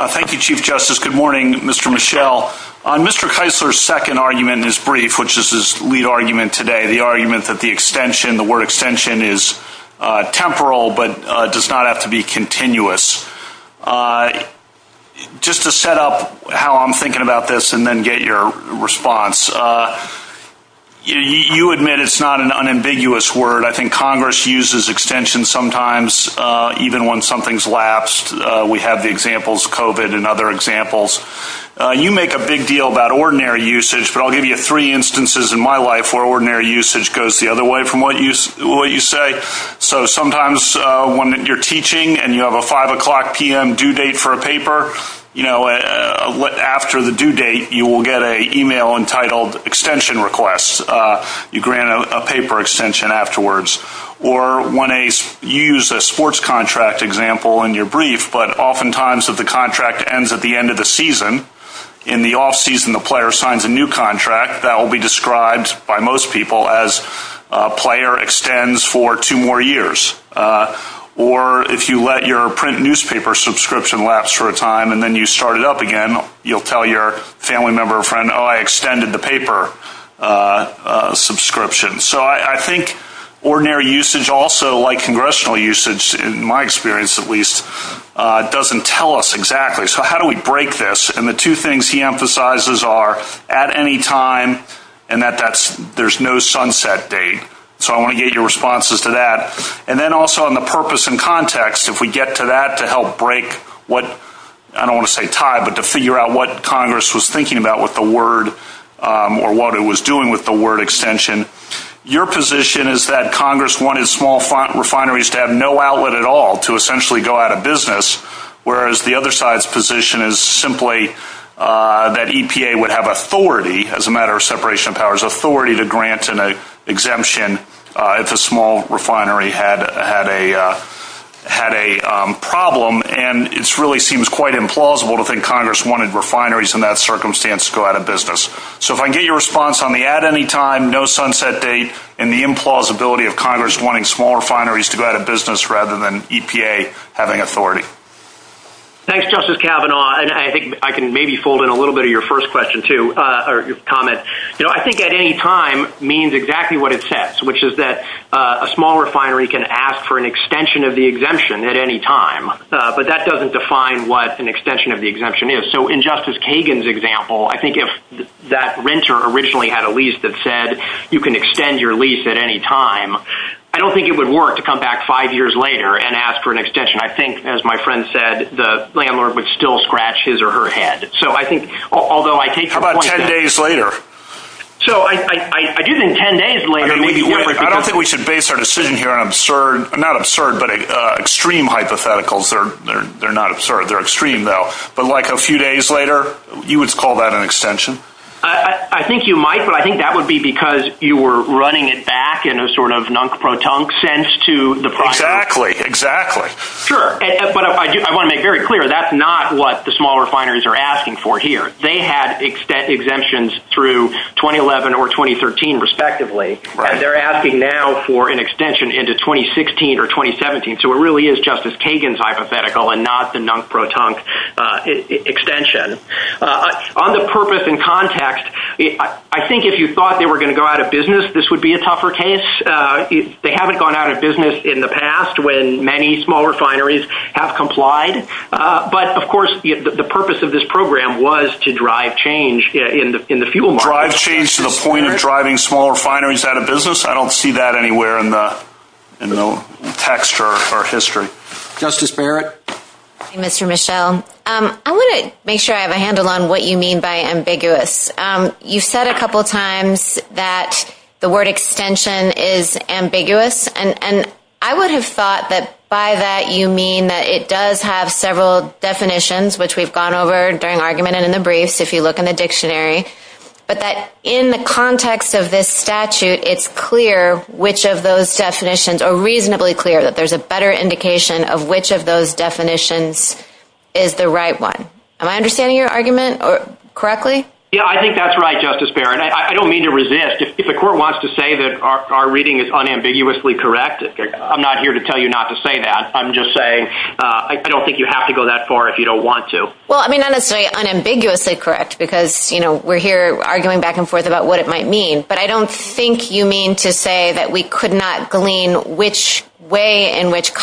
Thank you, Chief Justice. Good morning, Mr. Mischel. Mr. Keisler's second argument is brief, which is his lead argument today, the argument that the word extension is temporal but does not have to be continuous. Just to set up how I'm thinking about this and then get your response, you admit it's not an unambiguous word. I think Congress uses extension sometimes even when something's lapsed. We have the examples of COVID and other examples. You make a big deal about ordinary usage, but I'll give you three instances in my life where ordinary usage goes the other way from what you say. Sometimes when you're teaching and you have a 5 o'clock p.m. due date for a paper, after the due date, you will get an email entitled extension request. You grant a paper extension afterwards. Or when you use a sports contract example in your brief, but oftentimes if the player signs a new contract, that will be described by most people as a player extends for two more years. Or if you let your print newspaper subscription lapse for a time and then you start it up again, you'll tell your family member or friend, oh, I extended the paper subscription. So I think ordinary usage also, like congressional usage, in my experience at least, doesn't tell us exactly. So how do we break this? And the two things he emphasizes are at any time and that there's no sunset date. So I want to get your responses to that. And then also on the purpose and context, if we get to that to help break what, I don't want to say tie, but to figure out what Congress was thinking about with the word or what it was doing with the word extension, your position is that Congress wanted small refineries to have no outlet at all to essentially go out of business, whereas the other side's position is simply that EPA would have authority, as a matter of separation of powers, authority to grant an exemption if a small refinery had a problem. And it really seems quite implausible to think Congress wanted refineries in that circumstance to go out of business. So if I can get your response on the at any time, no sunset date, and the implausibility of Congress wanting small refineries and EPA having authority. Thanks, Justice Kavanaugh. And I think I can maybe fold in a little bit of your first question too, or comment. I think at any time means exactly what it says, which is that a small refinery can ask for an extension of the exemption at any time, but that doesn't define what an extension of the exemption is. So in Justice Kagan's example, I think if that renter originally had a lease that said you can extend your lease at any time, I don't think it would work to come back five years later and ask for an extension. I think, as my friend said, the landlord would still scratch his or her head. So I think, although I think about 10 days later, so I didn't 10 days later, maybe we should base our decision here on absurd, not absurd, but extreme hypotheticals. They're, they're, they're not absurd. They're extreme though. But like a few days later, you would call that an extension. I think you might, but I think that would be because you were running it back in a sort of non-proton sense to the process. Exactly, exactly. Sure. But I want to make very clear, that's not what the small refineries are asking for here. They had exemptions through 2011 or 2013, respectively. They're asking now for an extension into 2016 or 2017. So it really is Justice Kagan's hypothetical and not the non-proton extension. On the purpose and context, I think if you thought they were going to go out of business, this would be a tougher case. They haven't gone out of business in the past when many small refineries have complied. But of course, the purpose of this program was to drive change in the fuel market. Drive change to the point of driving small refineries out of business? I don't see that anywhere in the text or history. Justice Barrett? Mr. Michel, I want to make sure I have a handle on what you mean by ambiguous. You said a couple of times that the word extension is ambiguous, and I would have thought that by that you mean that it does have several definitions, which we've gone over during argument and in the briefs, if you look in the dictionary. But that in the context of this statute, it's clear which of those definitions are reasonably clear, that there's a better indication of which of those definitions is the right one. Am I understanding your argument correctly? Yeah, I think that's right, Justice Barrett. I don't mean to resist. If the court wants to say that our reading is unambiguously correct, I'm not here to tell you not to say that. I'm just saying I don't think you have to go that far if you don't want to. Well, I mean, I'm going to say unambiguously correct because we're here arguing back and forth about what it might mean. But I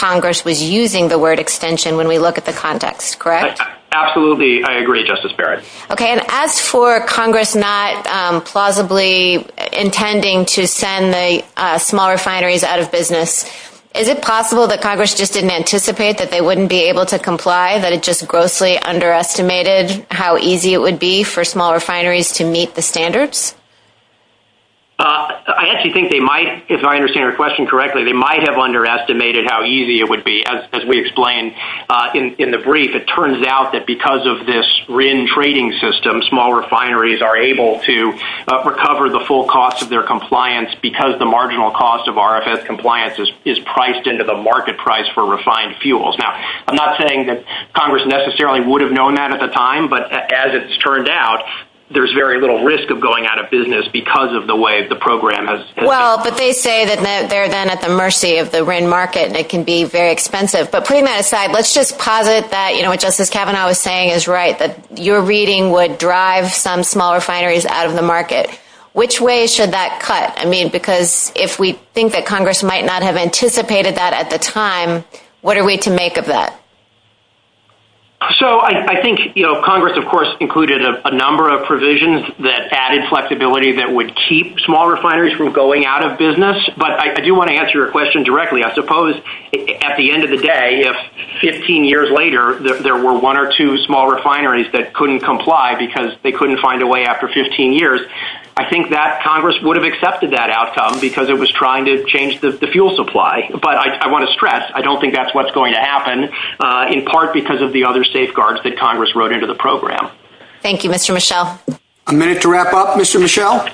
Congress was using the word extension when we look at the context, correct? Absolutely. I agree, Justice Barrett. Okay. And as for Congress not plausibly intending to send the small refineries out of business, is it possible that Congress just didn't anticipate that they wouldn't be able to comply, that it just grossly underestimated how easy it would be for small refineries to meet the standards? I actually think they might, if I understand your question correctly, they might have underestimated how easy it would be. As we explained in the brief, it turns out that because of this RIN trading system, small refineries are able to recover the full cost of their compliance because the marginal cost of RFS compliance is priced into the market price for refined fuels. Now, I'm not saying that Congress necessarily would have known that at the time, but as it's turned out, there's very little risk of going out of business because of the way the program has... Well, but they say that they're then at the mercy of the RIN market and it can be very expensive. But putting that aside, let's just posit that what Justice Kavanaugh was saying is right, that your reading would drive some small refineries out of the market. Which way should that cut? I mean, because if we think that Congress might not have anticipated that at the time, what are we to make of that? So I think Congress, of course, included a number of provisions that added flexibility that would keep small refineries from going out of business. But I do want to answer your question directly. I suppose at the end of the day, if 15 years later there were one or two small refineries that couldn't comply because they couldn't find a way after 15 years, I think that Congress would have accepted that outcome because it was trying to change the fuel supply. But I want to stress, I don't think that's what's going to happen in part because of the other safeguards that Congress wrote into the program. Thank you, Mr. Michel. A minute to wrap up, Mr. Michel.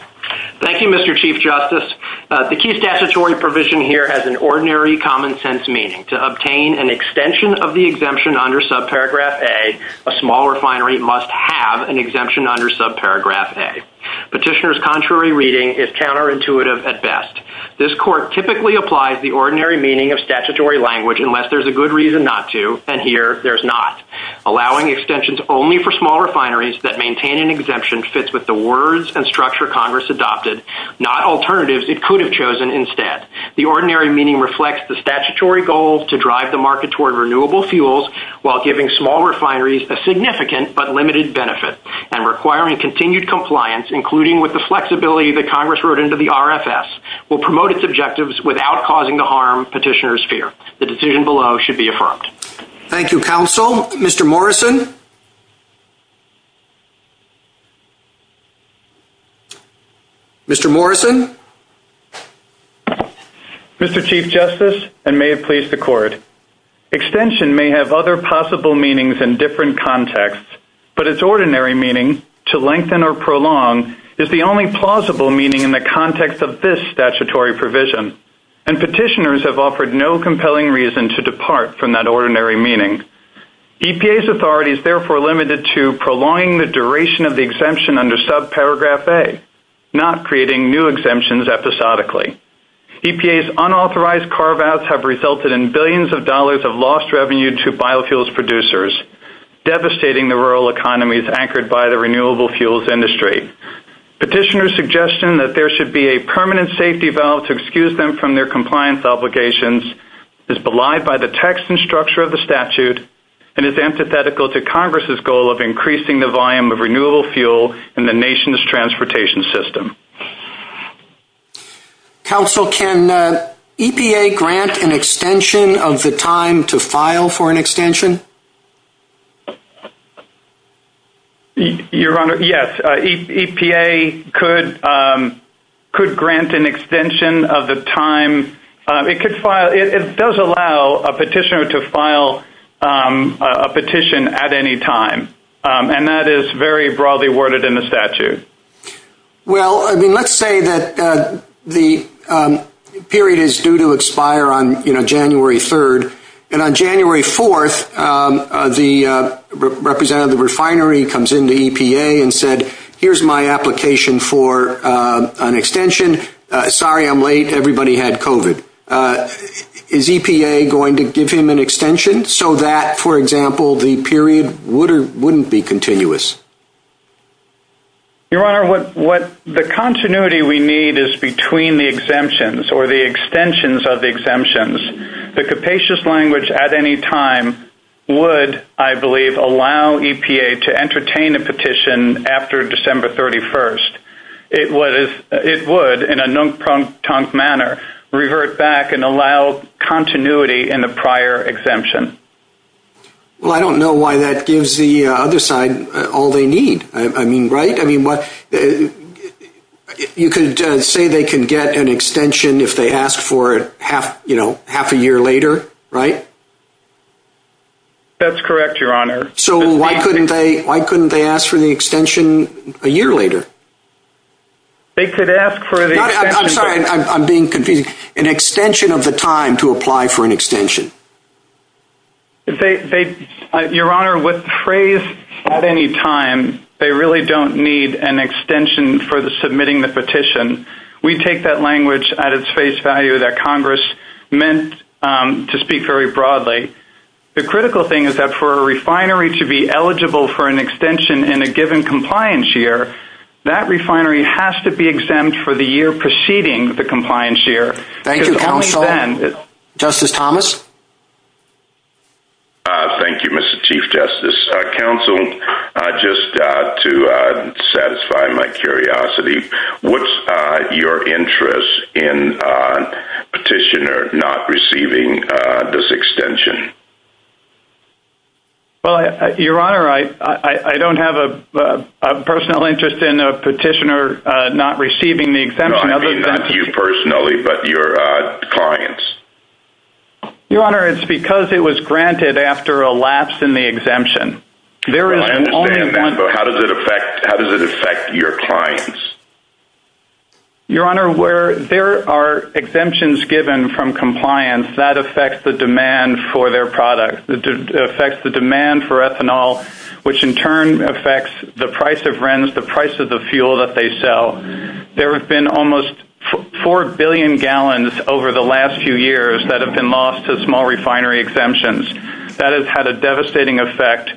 Thank you, Mr. Chief Justice. The key statutory provision here has an ordinary common sense meaning. To obtain an extension of the exemption under subparagraph A, a small refinery must have an exemption under subparagraph A. Petitioner's contrary reading is counterintuitive at best. This court typically applies the ordinary meaning of statutory language unless there's a good reason not to, and here there's not. Allowing extensions only for small refineries that maintain an exemption fits with the words and structure Congress adopted, not alternatives it could have chosen instead. The ordinary meaning reflects the statutory goal to drive the market toward renewable fuels while giving small refineries a significant but limited benefit and requiring continued compliance, including with the flexibility that Congress wrote into the RFS, will promote its objectives without causing the harm petitioners fear. The decision below should be affirmed. Thank you, counsel. Mr. Morrison? Mr. Morrison? Mr. Chief Justice, and may it please the court, extension may have other possible meanings in different contexts, but its ordinary meaning to lengthen or prolong is the only plausible meaning in the context of this statutory provision, and petitioners have offered no compelling reason to depart from that ordinary meaning. EPA's authority is therefore limited to prolonging the duration of the exemption under subparagraph A, not creating new exemptions episodically. EPA's unauthorized carve-outs have resulted in billions of dollars of lost revenue to biofuels producers, devastating the rural economies anchored by the renewable fuels industry. Petitioners' suggestion that there should be a permanent safety valve to excuse them from their compliance obligations is belied by the text and structure of the statute and is antithetical to Congress's goal of increasing the volume of renewable fuel in the nation's transportation system. Counsel, can EPA grant an extension of the time to file for an extension? Your Honor, yes. EPA could grant an extension of the time. It does allow a petitioner to file a petition at any time, and that is very broadly worded in the statute. Well, I mean, let's say that the period is due to expire on, you know, January 3rd, and on January 4th, the representative of the refinery comes into EPA and said, here's my application for an extension. Sorry, I'm late. Everybody had COVID. Is EPA going to give him an extension so that, for example, the period wouldn't be continuous? Your Honor, what the continuity we need is between the exemptions or the extensions of the exemptions. The capacious language at any time would, I believe, allow EPA to entertain a petition after December 31st. It would, in a non-prompt manner, revert back and allow continuity in the prior exemption. Well, I don't know why that gives the other side all they need. I mean, right? I mean, you could say they can get an extension if they ask for it, you know, half a year later, right? That's correct, Your Honor. So why couldn't they ask for the extension a year later? They could ask for the extension. I'm sorry. I'm being confused. An extension of the time to apply for an extension. They, Your Honor, what phrase, at any time, they really don't need an extension for the submitting the petition. We take that language at its face value that Congress meant to speak very broadly. The critical thing is that for a refinery to be eligible for an extension in a given compliance year, that refinery has to be exempt for the year preceding the compliance year. Thank you, Counselor. Justice Thomas? Thank you, Mr. Chief Justice. Counsel, just to satisfy my curiosity, what's your interest in a petitioner not receiving this extension? Well, Your Honor, I don't have a personal interest in a petitioner not receiving the client's. Your Honor, it's because it was granted after a lapse in the exemption. There is only one- I understand that, but how does it affect your clients? Your Honor, where there are exemptions given from compliance, that affects the demand for their product. It affects the demand for ethanol, which in turn affects the price of RENs, the price of the fuel that they sell. There have been almost four billion gallons over the last few years that have been lost to small refinery exemptions. That has had a devastating effect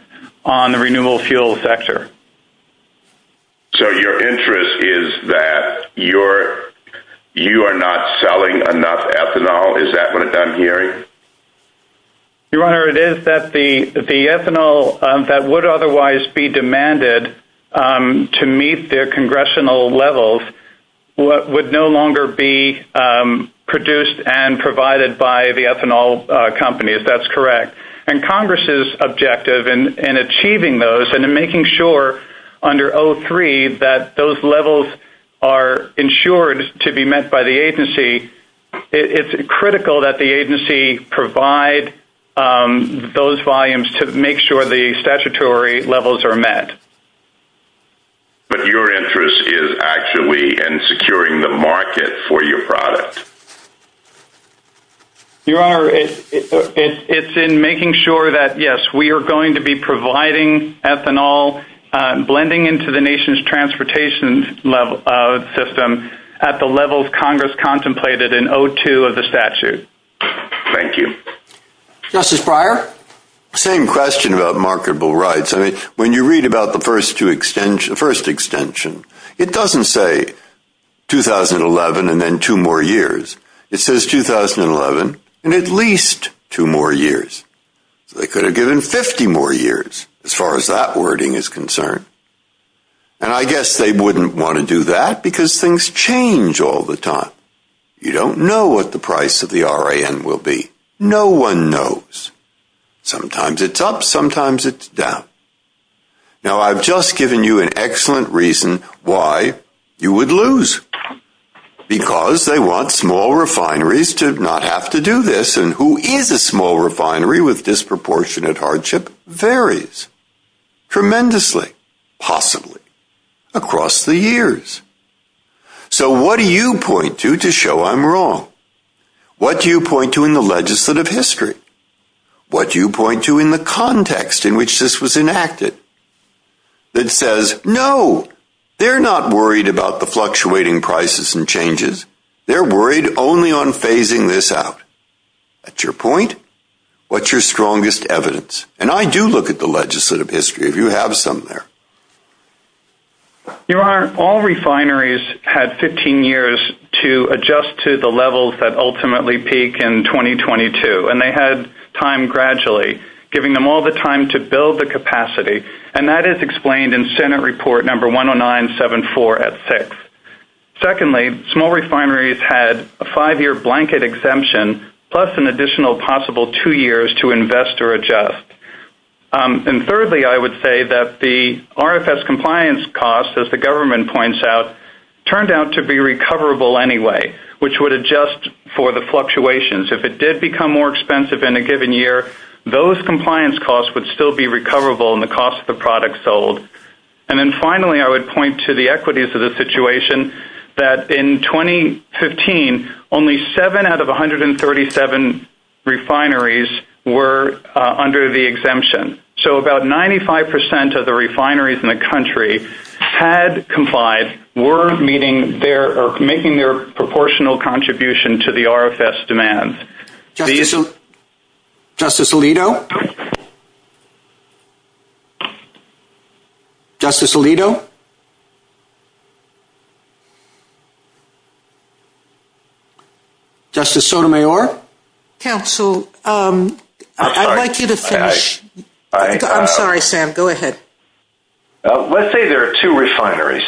on the renewable fuel sector. So your interest is that you are not selling enough ethanol? Is that what I'm hearing? Your Honor, it is that the ethanol that would otherwise be demanded to meet their congressional levels would no longer be produced and provided by the ethanol company, if that's correct. And Congress's objective in achieving those and in making sure under 03 that those levels are ensured to be met by the agency, it's critical that the agency provide those volumes to make sure the statutory levels are met. But your interest is actually in securing the market for your product? Your Honor, it's in making sure that, yes, we are going to be providing ethanol, blending into the nation's transportation system at the levels Congress contemplated in 02 of the statute. Thank you. Justice Breyer? Same question about marketable rights. When you read about the first extension, it doesn't say 2011 and then two more years. It says 2011 and at least two more years. They could have given 50 more years as far as that wording is concerned. And I guess they wouldn't want to do that because things change all the time. You don't know what the price of the RAN will be. No one knows. Sometimes it's up, sometimes it's down. Now, I've just given you an excellent reason why you would lose. Because they want small refineries to not have to do this. And who is a small refinery with disproportionate hardship varies tremendously, possibly, across the years. So what do you point to to show I'm wrong? What do you point to in the legislative history? What do you point to in the context in which this was enacted that says, no, they're not worried about the fluctuating prices and changes. They're worried only on phasing this out. That's your point. What's your strongest evidence? And I do look at the legislative history, if you have some there. All refineries had 15 years to adjust to the levels that ultimately peak in 2022. And they had time gradually, giving them all the time to build the capacity. And that is explained in Senate report number 10974 at 6. Secondly, small refineries had a five-year blanket exemption, plus an additional possible two years to invest or adjust. And thirdly, I would say that the RFS compliance costs, as the government points out, turned out to be recoverable anyway, which would adjust for the fluctuations. If it did become more expensive in a given year, those compliance costs would still be recoverable in the cost of the product sold. And then finally, I would point to the equities of the situation that in 2015, only seven out of 137 refineries were under the exemption. So about 95% of the refineries in the country had complied, were meeting their or making their proportional contribution to the RFS demand. Justice Alito? Justice Alito? Justice Sotomayor? Counsel, I'd like you to finish. I'm sorry, Sam. Go ahead. Let's say there are two refineries.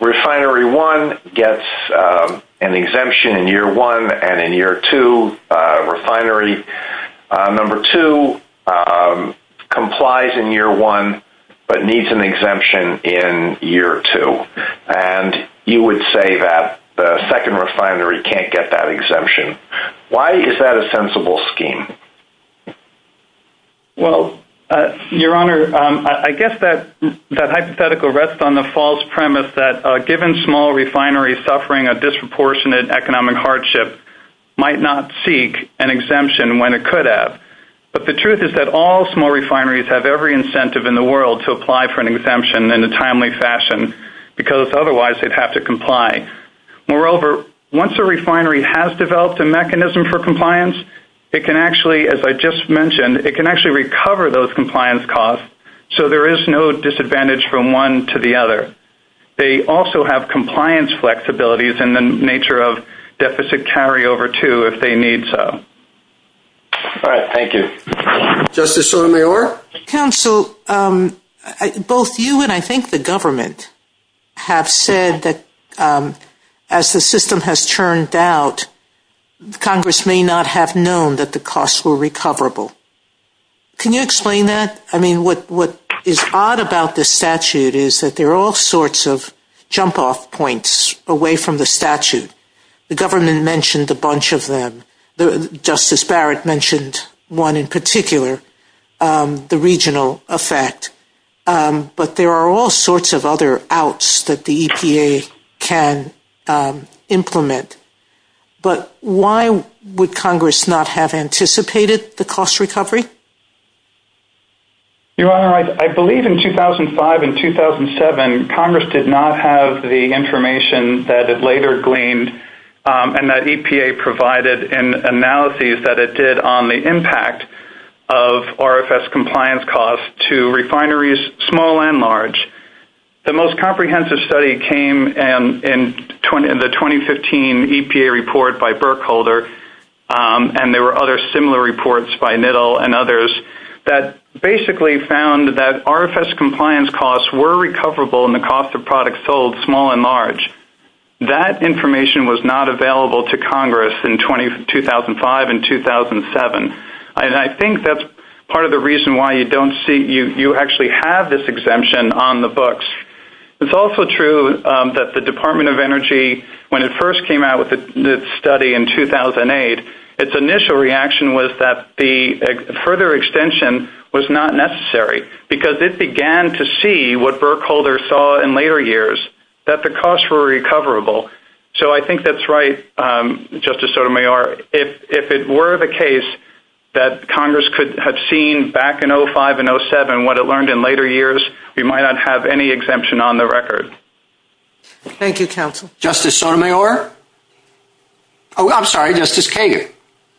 Refinery 1 gets an exemption in year 1 and in year 2, refinery number 2 complies in year 1, but needs an exemption in year 2. And you would say that the second refinery can't get that exemption. Why is that a sensible scheme? Well, Your Honor, I guess that hypothetical rests on the false premise that given small refineries suffering a disproportionate economic hardship might not seek an exemption when it could have. But the truth is that all small refineries have every incentive in the world to apply for an exemption in a timely fashion, because otherwise they'd have to comply. Moreover, once a refinery has developed a mechanism for compliance, it can actually, as I just mentioned, it can actually recover those compliance costs, so there is no disadvantage from one to the other. They also have compliance flexibilities in the nature of deficit carryover, too, if they need so. All right. Thank you. Justice Sotomayor? Counsel, both you and I think the government have said that as the system has churned out, Congress may not have known that the costs were recoverable. Can you explain that? I mean, what is odd about this statute is that there are all sorts of jump-off points away from the statute. The government mentioned a bunch of them. Justice Barrett mentioned one in particular, the regional effect. But there are all sorts of other outs that the EPA can implement. But why would Congress not have anticipated the cost recovery? Your Honor, I believe in 2005 and 2007, Congress did not have the information that it later gleaned and that EPA provided in analyses that it did on the impact of RFS compliance costs to refineries, small and large. The most comprehensive study came in the 2015 EPA report by Berkholder, and there were other similar reports by Nittel and others that basically found that RFS compliance costs were recoverable in the cost of products sold small and large. That information was not available to Congress in 2005 and 2007. And I think that's part of the reason why you don't see you actually have this exemption on the books. It's also true that the Department of Energy, when it first came out with the study in 2008, its initial reaction was that the further extension was not necessary because it began to see what Berkholder saw in later years, that the costs were recoverable. So I think that's right, Justice Sotomayor. If it were the case that Congress could have seen back in 2005 and 2007 what it learned in later years, we might not have any exemption on the record. Thank you, counsel. Justice Sotomayor? Oh, I'm sorry, Justice Kagan.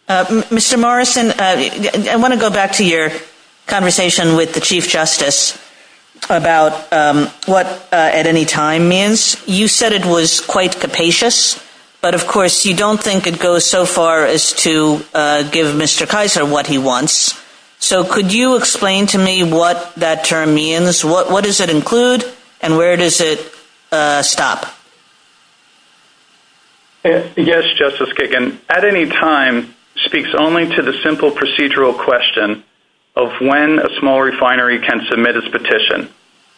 Mr. Morrison, I want to go back to your conversation with the Chief Justice about what at any time means. You said it was quite capacious, but of course you don't think it goes so far as to give Mr. Kaiser what he wants. So could you explain to me what that term means? What does it include and where does it stop? Yes, Justice Kagan. At any time speaks only to the simple procedural question of when a small refinery can submit its petition.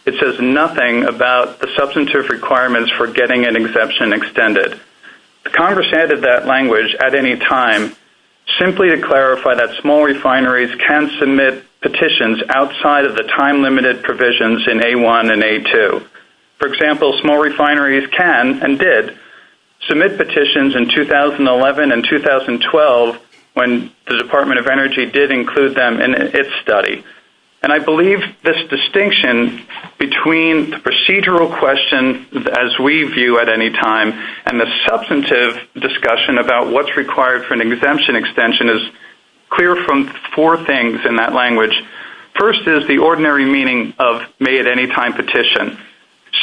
It says nothing about the substantive requirements for getting an exemption extended. Congress added that language at any time simply to clarify that small refineries can submit petitions outside of the time-limited provisions in A1 and A2. For example, small refineries can and did submit petitions in 2011 and 2012 when the Department of Energy did include them in its study. And I believe this distinction between the procedural question as we view at any time and the substantive discussion about what's required for an exemption extension is clear from four things in that language. First is the ordinary meaning of may at any time petition.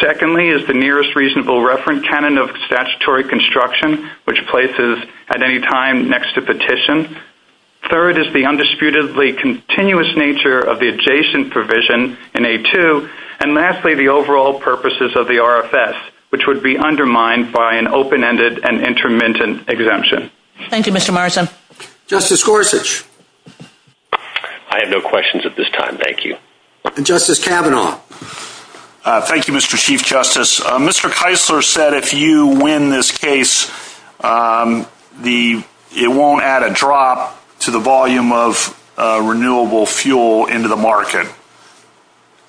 Secondly is the nearest reasonable reference canon of statutory construction, which places at any time next to petition. Third is the undisputedly continuous nature of the adjacent provision in A2. And lastly, the overall purposes of the RFS, which would be undermined by an open-ended and intermittent exemption. Thank you, Mr. Marsden. Justice Gorsuch. I have no questions at this time. Thank you. And Justice Kavanaugh. Thank you, Mr. Chief Justice. Mr. Kaisler said if you win this case, it won't add a drop to the volume of renewable fuel into the market.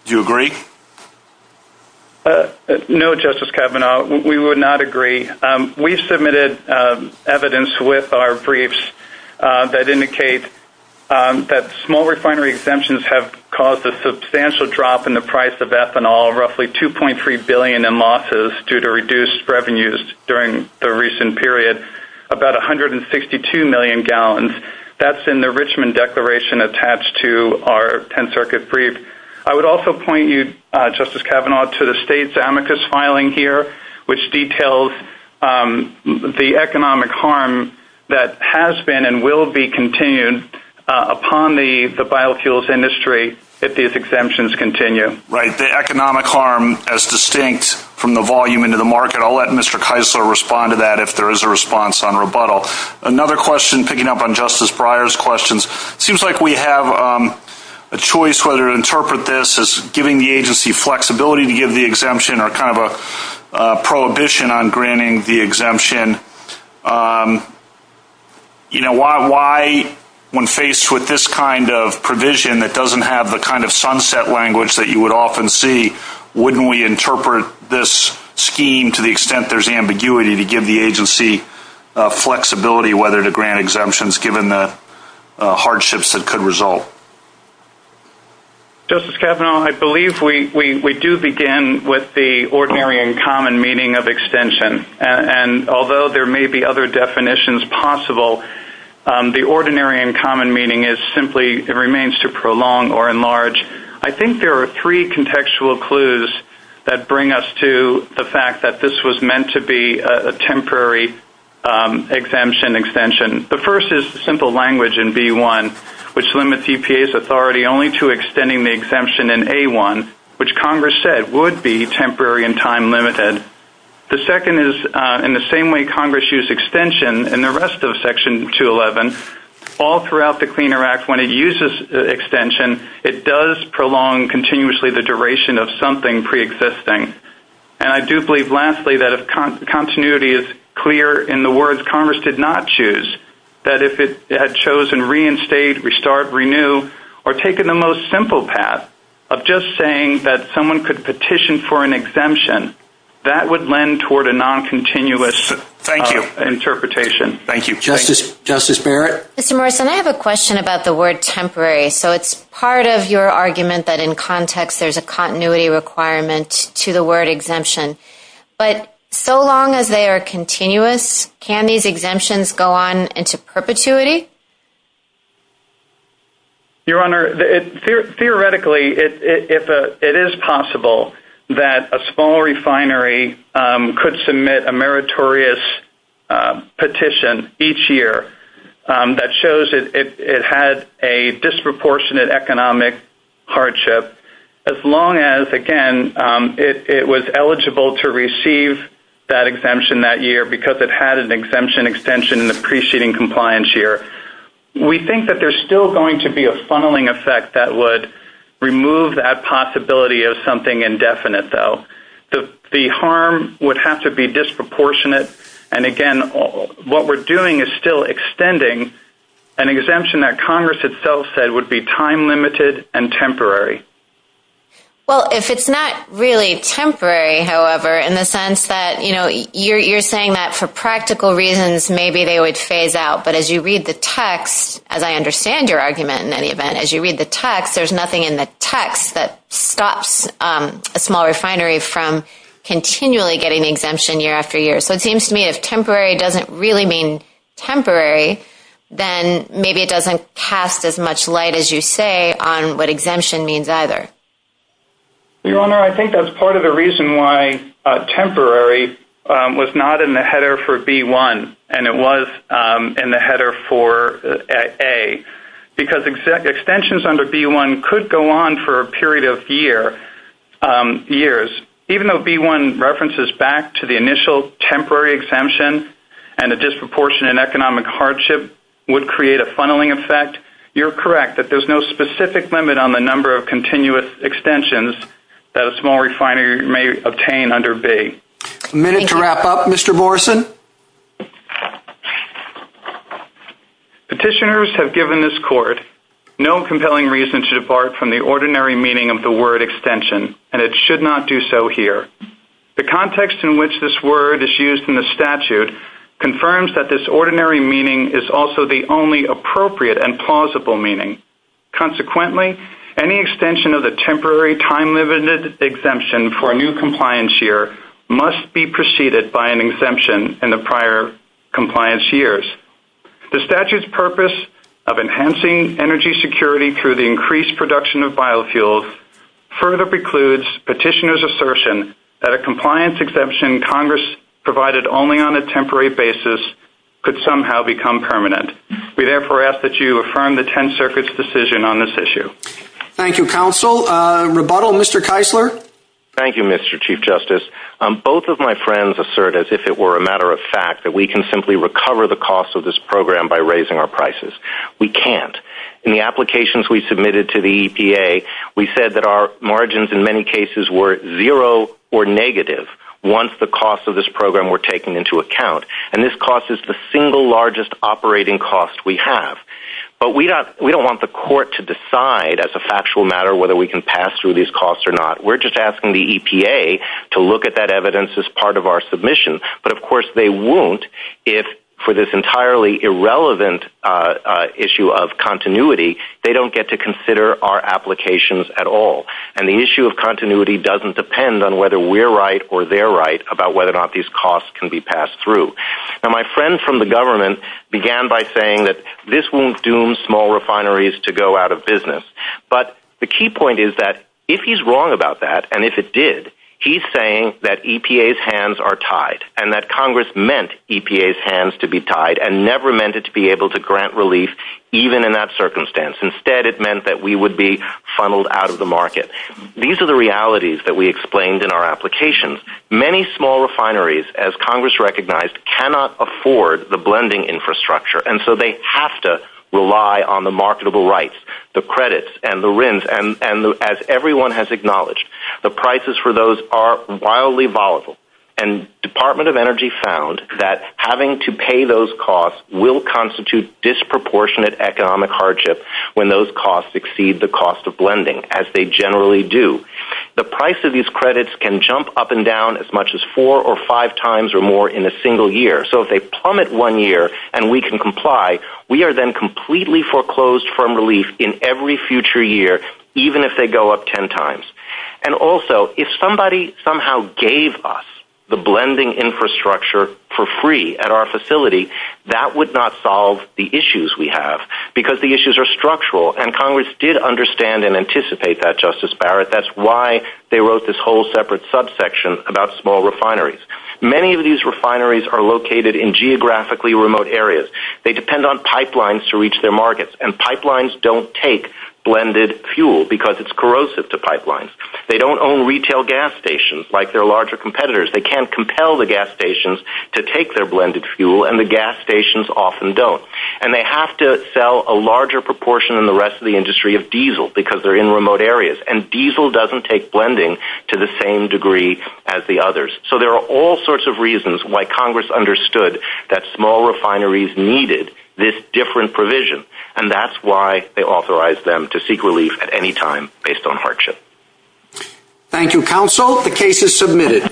Do you agree? No, Justice Kavanaugh. We would not agree. We submitted evidence with our briefs that indicate that small refinery exemptions have caused a substantial drop in the price of ethanol, roughly $2.3 billion in losses due to reduced revenues during the recent period, about 162 million gallons. That's in the Richmond Declaration attached to our 10th Circuit brief. I would also point you, Justice Kavanaugh, to the state's amicus filing here, which details the economic harm that has been and will be continued upon the biofuels industry if these exemptions continue. The economic harm is distinct from the volume into the market. I'll let Mr. Kaisler respond to that if there is a response on rebuttal. Another question, picking up on Justice Breyer's questions. It seems like we have a choice whether to interpret this as giving the agency flexibility to give the exemption or kind of a prohibition on granting the exemption. Why, when faced with this kind of provision that doesn't have the kind of sunset language that you would often see, wouldn't we interpret this scheme to the extent there's ambiguity to give the agency flexibility whether to grant exemptions given the hardships that could result? Justice Kavanaugh, I believe we do begin with the ordinary and common meaning of extension. Although there may be other definitions possible, the ordinary and common meaning remains to prolong or enlarge. I think there are three contextual clues that bring us to the fact that this was meant to be a temporary exemption extension. The first is simple language in B1, which limits EPA's authority only to extending the exemption in A1, which Congress said would be temporary and time limited. The second is, in the same way Congress used extension in the rest of Section 211, all throughout the Clean Air Act, when it uses extension, it does prolong continuously the duration of something preexisting. And I do believe, lastly, that if continuity is clear in the words Congress did not choose, that if it had chosen reinstate, restart, renew, or taken the most simple path of just saying that someone could petition for an exemption, that would lend toward a non-continuous interpretation. Thank you. Justice Barrett? Mr. Morrison, I have a question about the word temporary. So it's part of your argument that in context there's a continuity requirement to the word exemption. But so long as they are continuous, can these exemptions go on into perpetuity? Your Honor, theoretically, it is possible that a small refinery could submit a meritorious petition each year that shows it had a disproportionate economic hardship, as long as, again, it was eligible to receive that exemption that year because it had an exemption extension in the preceding compliance year. We think that there's still going to be a funneling effect that would remove that possibility of something indefinite, though. The harm would have to be disproportionate. And again, what we're doing is still extending an exemption that Congress itself said would be time-limited and temporary. Well, if it's not really temporary, however, in the sense that, you know, you're saying that for practical reasons, maybe they would phase out. But as you read the text, as I understand your argument, in any event, as you read the text, there's nothing in the text that stops a small refinery from continually getting exemption year after year. So it seems to me if temporary doesn't really mean temporary, then maybe it doesn't cast as much light as you say on what means either. Your Honor, I think that's part of the reason why temporary was not in the header for B-1, and it was in the header for A, because extensions under B-1 could go on for a period of years. Even though B-1 references back to the initial temporary exemption and a disproportionate economic hardship would create a funneling effect, you're correct that there's no specific limit on the number of continuous extensions that a small refinery may obtain under B. A minute to wrap up, Mr. Morrison. Petitioners have given this court no compelling reason to depart from the ordinary meaning of the word extension, and it should not do so here. The context in which this word is used in the statute confirms that this ordinary meaning is also the only appropriate and plausible meaning. Consequently, any extension of the temporary time-limited exemption for a new compliance year must be preceded by an exemption in the prior compliance years. The statute's purpose of enhancing energy security through the increased production of biofuels further precludes petitioners' assertion that a compliance exemption Congress provided only on a temporary basis could become permanent. We therefore ask that you affirm the Tenth Circuit's decision on this issue. Thank you, counsel. Rebuttal, Mr. Keisler. Thank you, Mr. Chief Justice. Both of my friends assert as if it were a matter of fact that we can simply recover the costs of this program by raising our prices. We can't. In the applications we submitted to the EPA, we said that our margins in many cases were zero or negative once the costs of this program were taken into account, and this cost is the single largest operating cost we have. But we don't want the court to decide as a factual matter whether we can pass through these costs or not. We're just asking the EPA to look at that evidence as part of our submission, but of course they won't if, for this entirely irrelevant issue of continuity, they don't get to consider our applications at all. And the issue of continuity doesn't depend on whether we're right or they're right about whether or not these costs can be passed through. Now my friend from the government began by saying that this won't doom small refineries to go out of business, but the key point is that if he's wrong about that, and if it did, he's saying that EPA's hands are tied and that Congress meant EPA's hands to be tied and never meant it to be able to grant relief even in that circumstance. Instead it meant that we would be funneled out of the market. These are the realities that we explained in our applications. Many small refineries, as Congress recognized, cannot afford the blending infrastructure, and so they have to rely on the marketable rights, the credits and the RINs, and as everyone has acknowledged, the prices for those are wildly volatile. And Department of Energy found that having to pay those costs will constitute disproportionate economic hardship when those costs exceed the The price of these credits can jump up and down as much as four or five times or more in a single year. So if they plummet one year and we can comply, we are then completely foreclosed from relief in every future year, even if they go up 10 times. And also, if somebody somehow gave us the blending infrastructure for free at our facility, that would not solve the issues we That's why they wrote this whole separate subsection about small refineries. Many of these refineries are located in geographically remote areas. They depend on pipelines to reach their markets, and pipelines don't take blended fuel because it's corrosive to pipelines. They don't own retail gas stations like their larger competitors. They can't compel the gas stations to take their blended fuel, and the gas stations often don't. And they have to sell a larger proportion in the rest of the industry of diesel because they're in remote areas, and diesel doesn't take blending to the same degree as the others. So there are all sorts of reasons why Congress understood that small refineries needed this different provision, and that's why they authorized them to seek relief at any time based on hardship. Thank you, counsel. The case is submitted.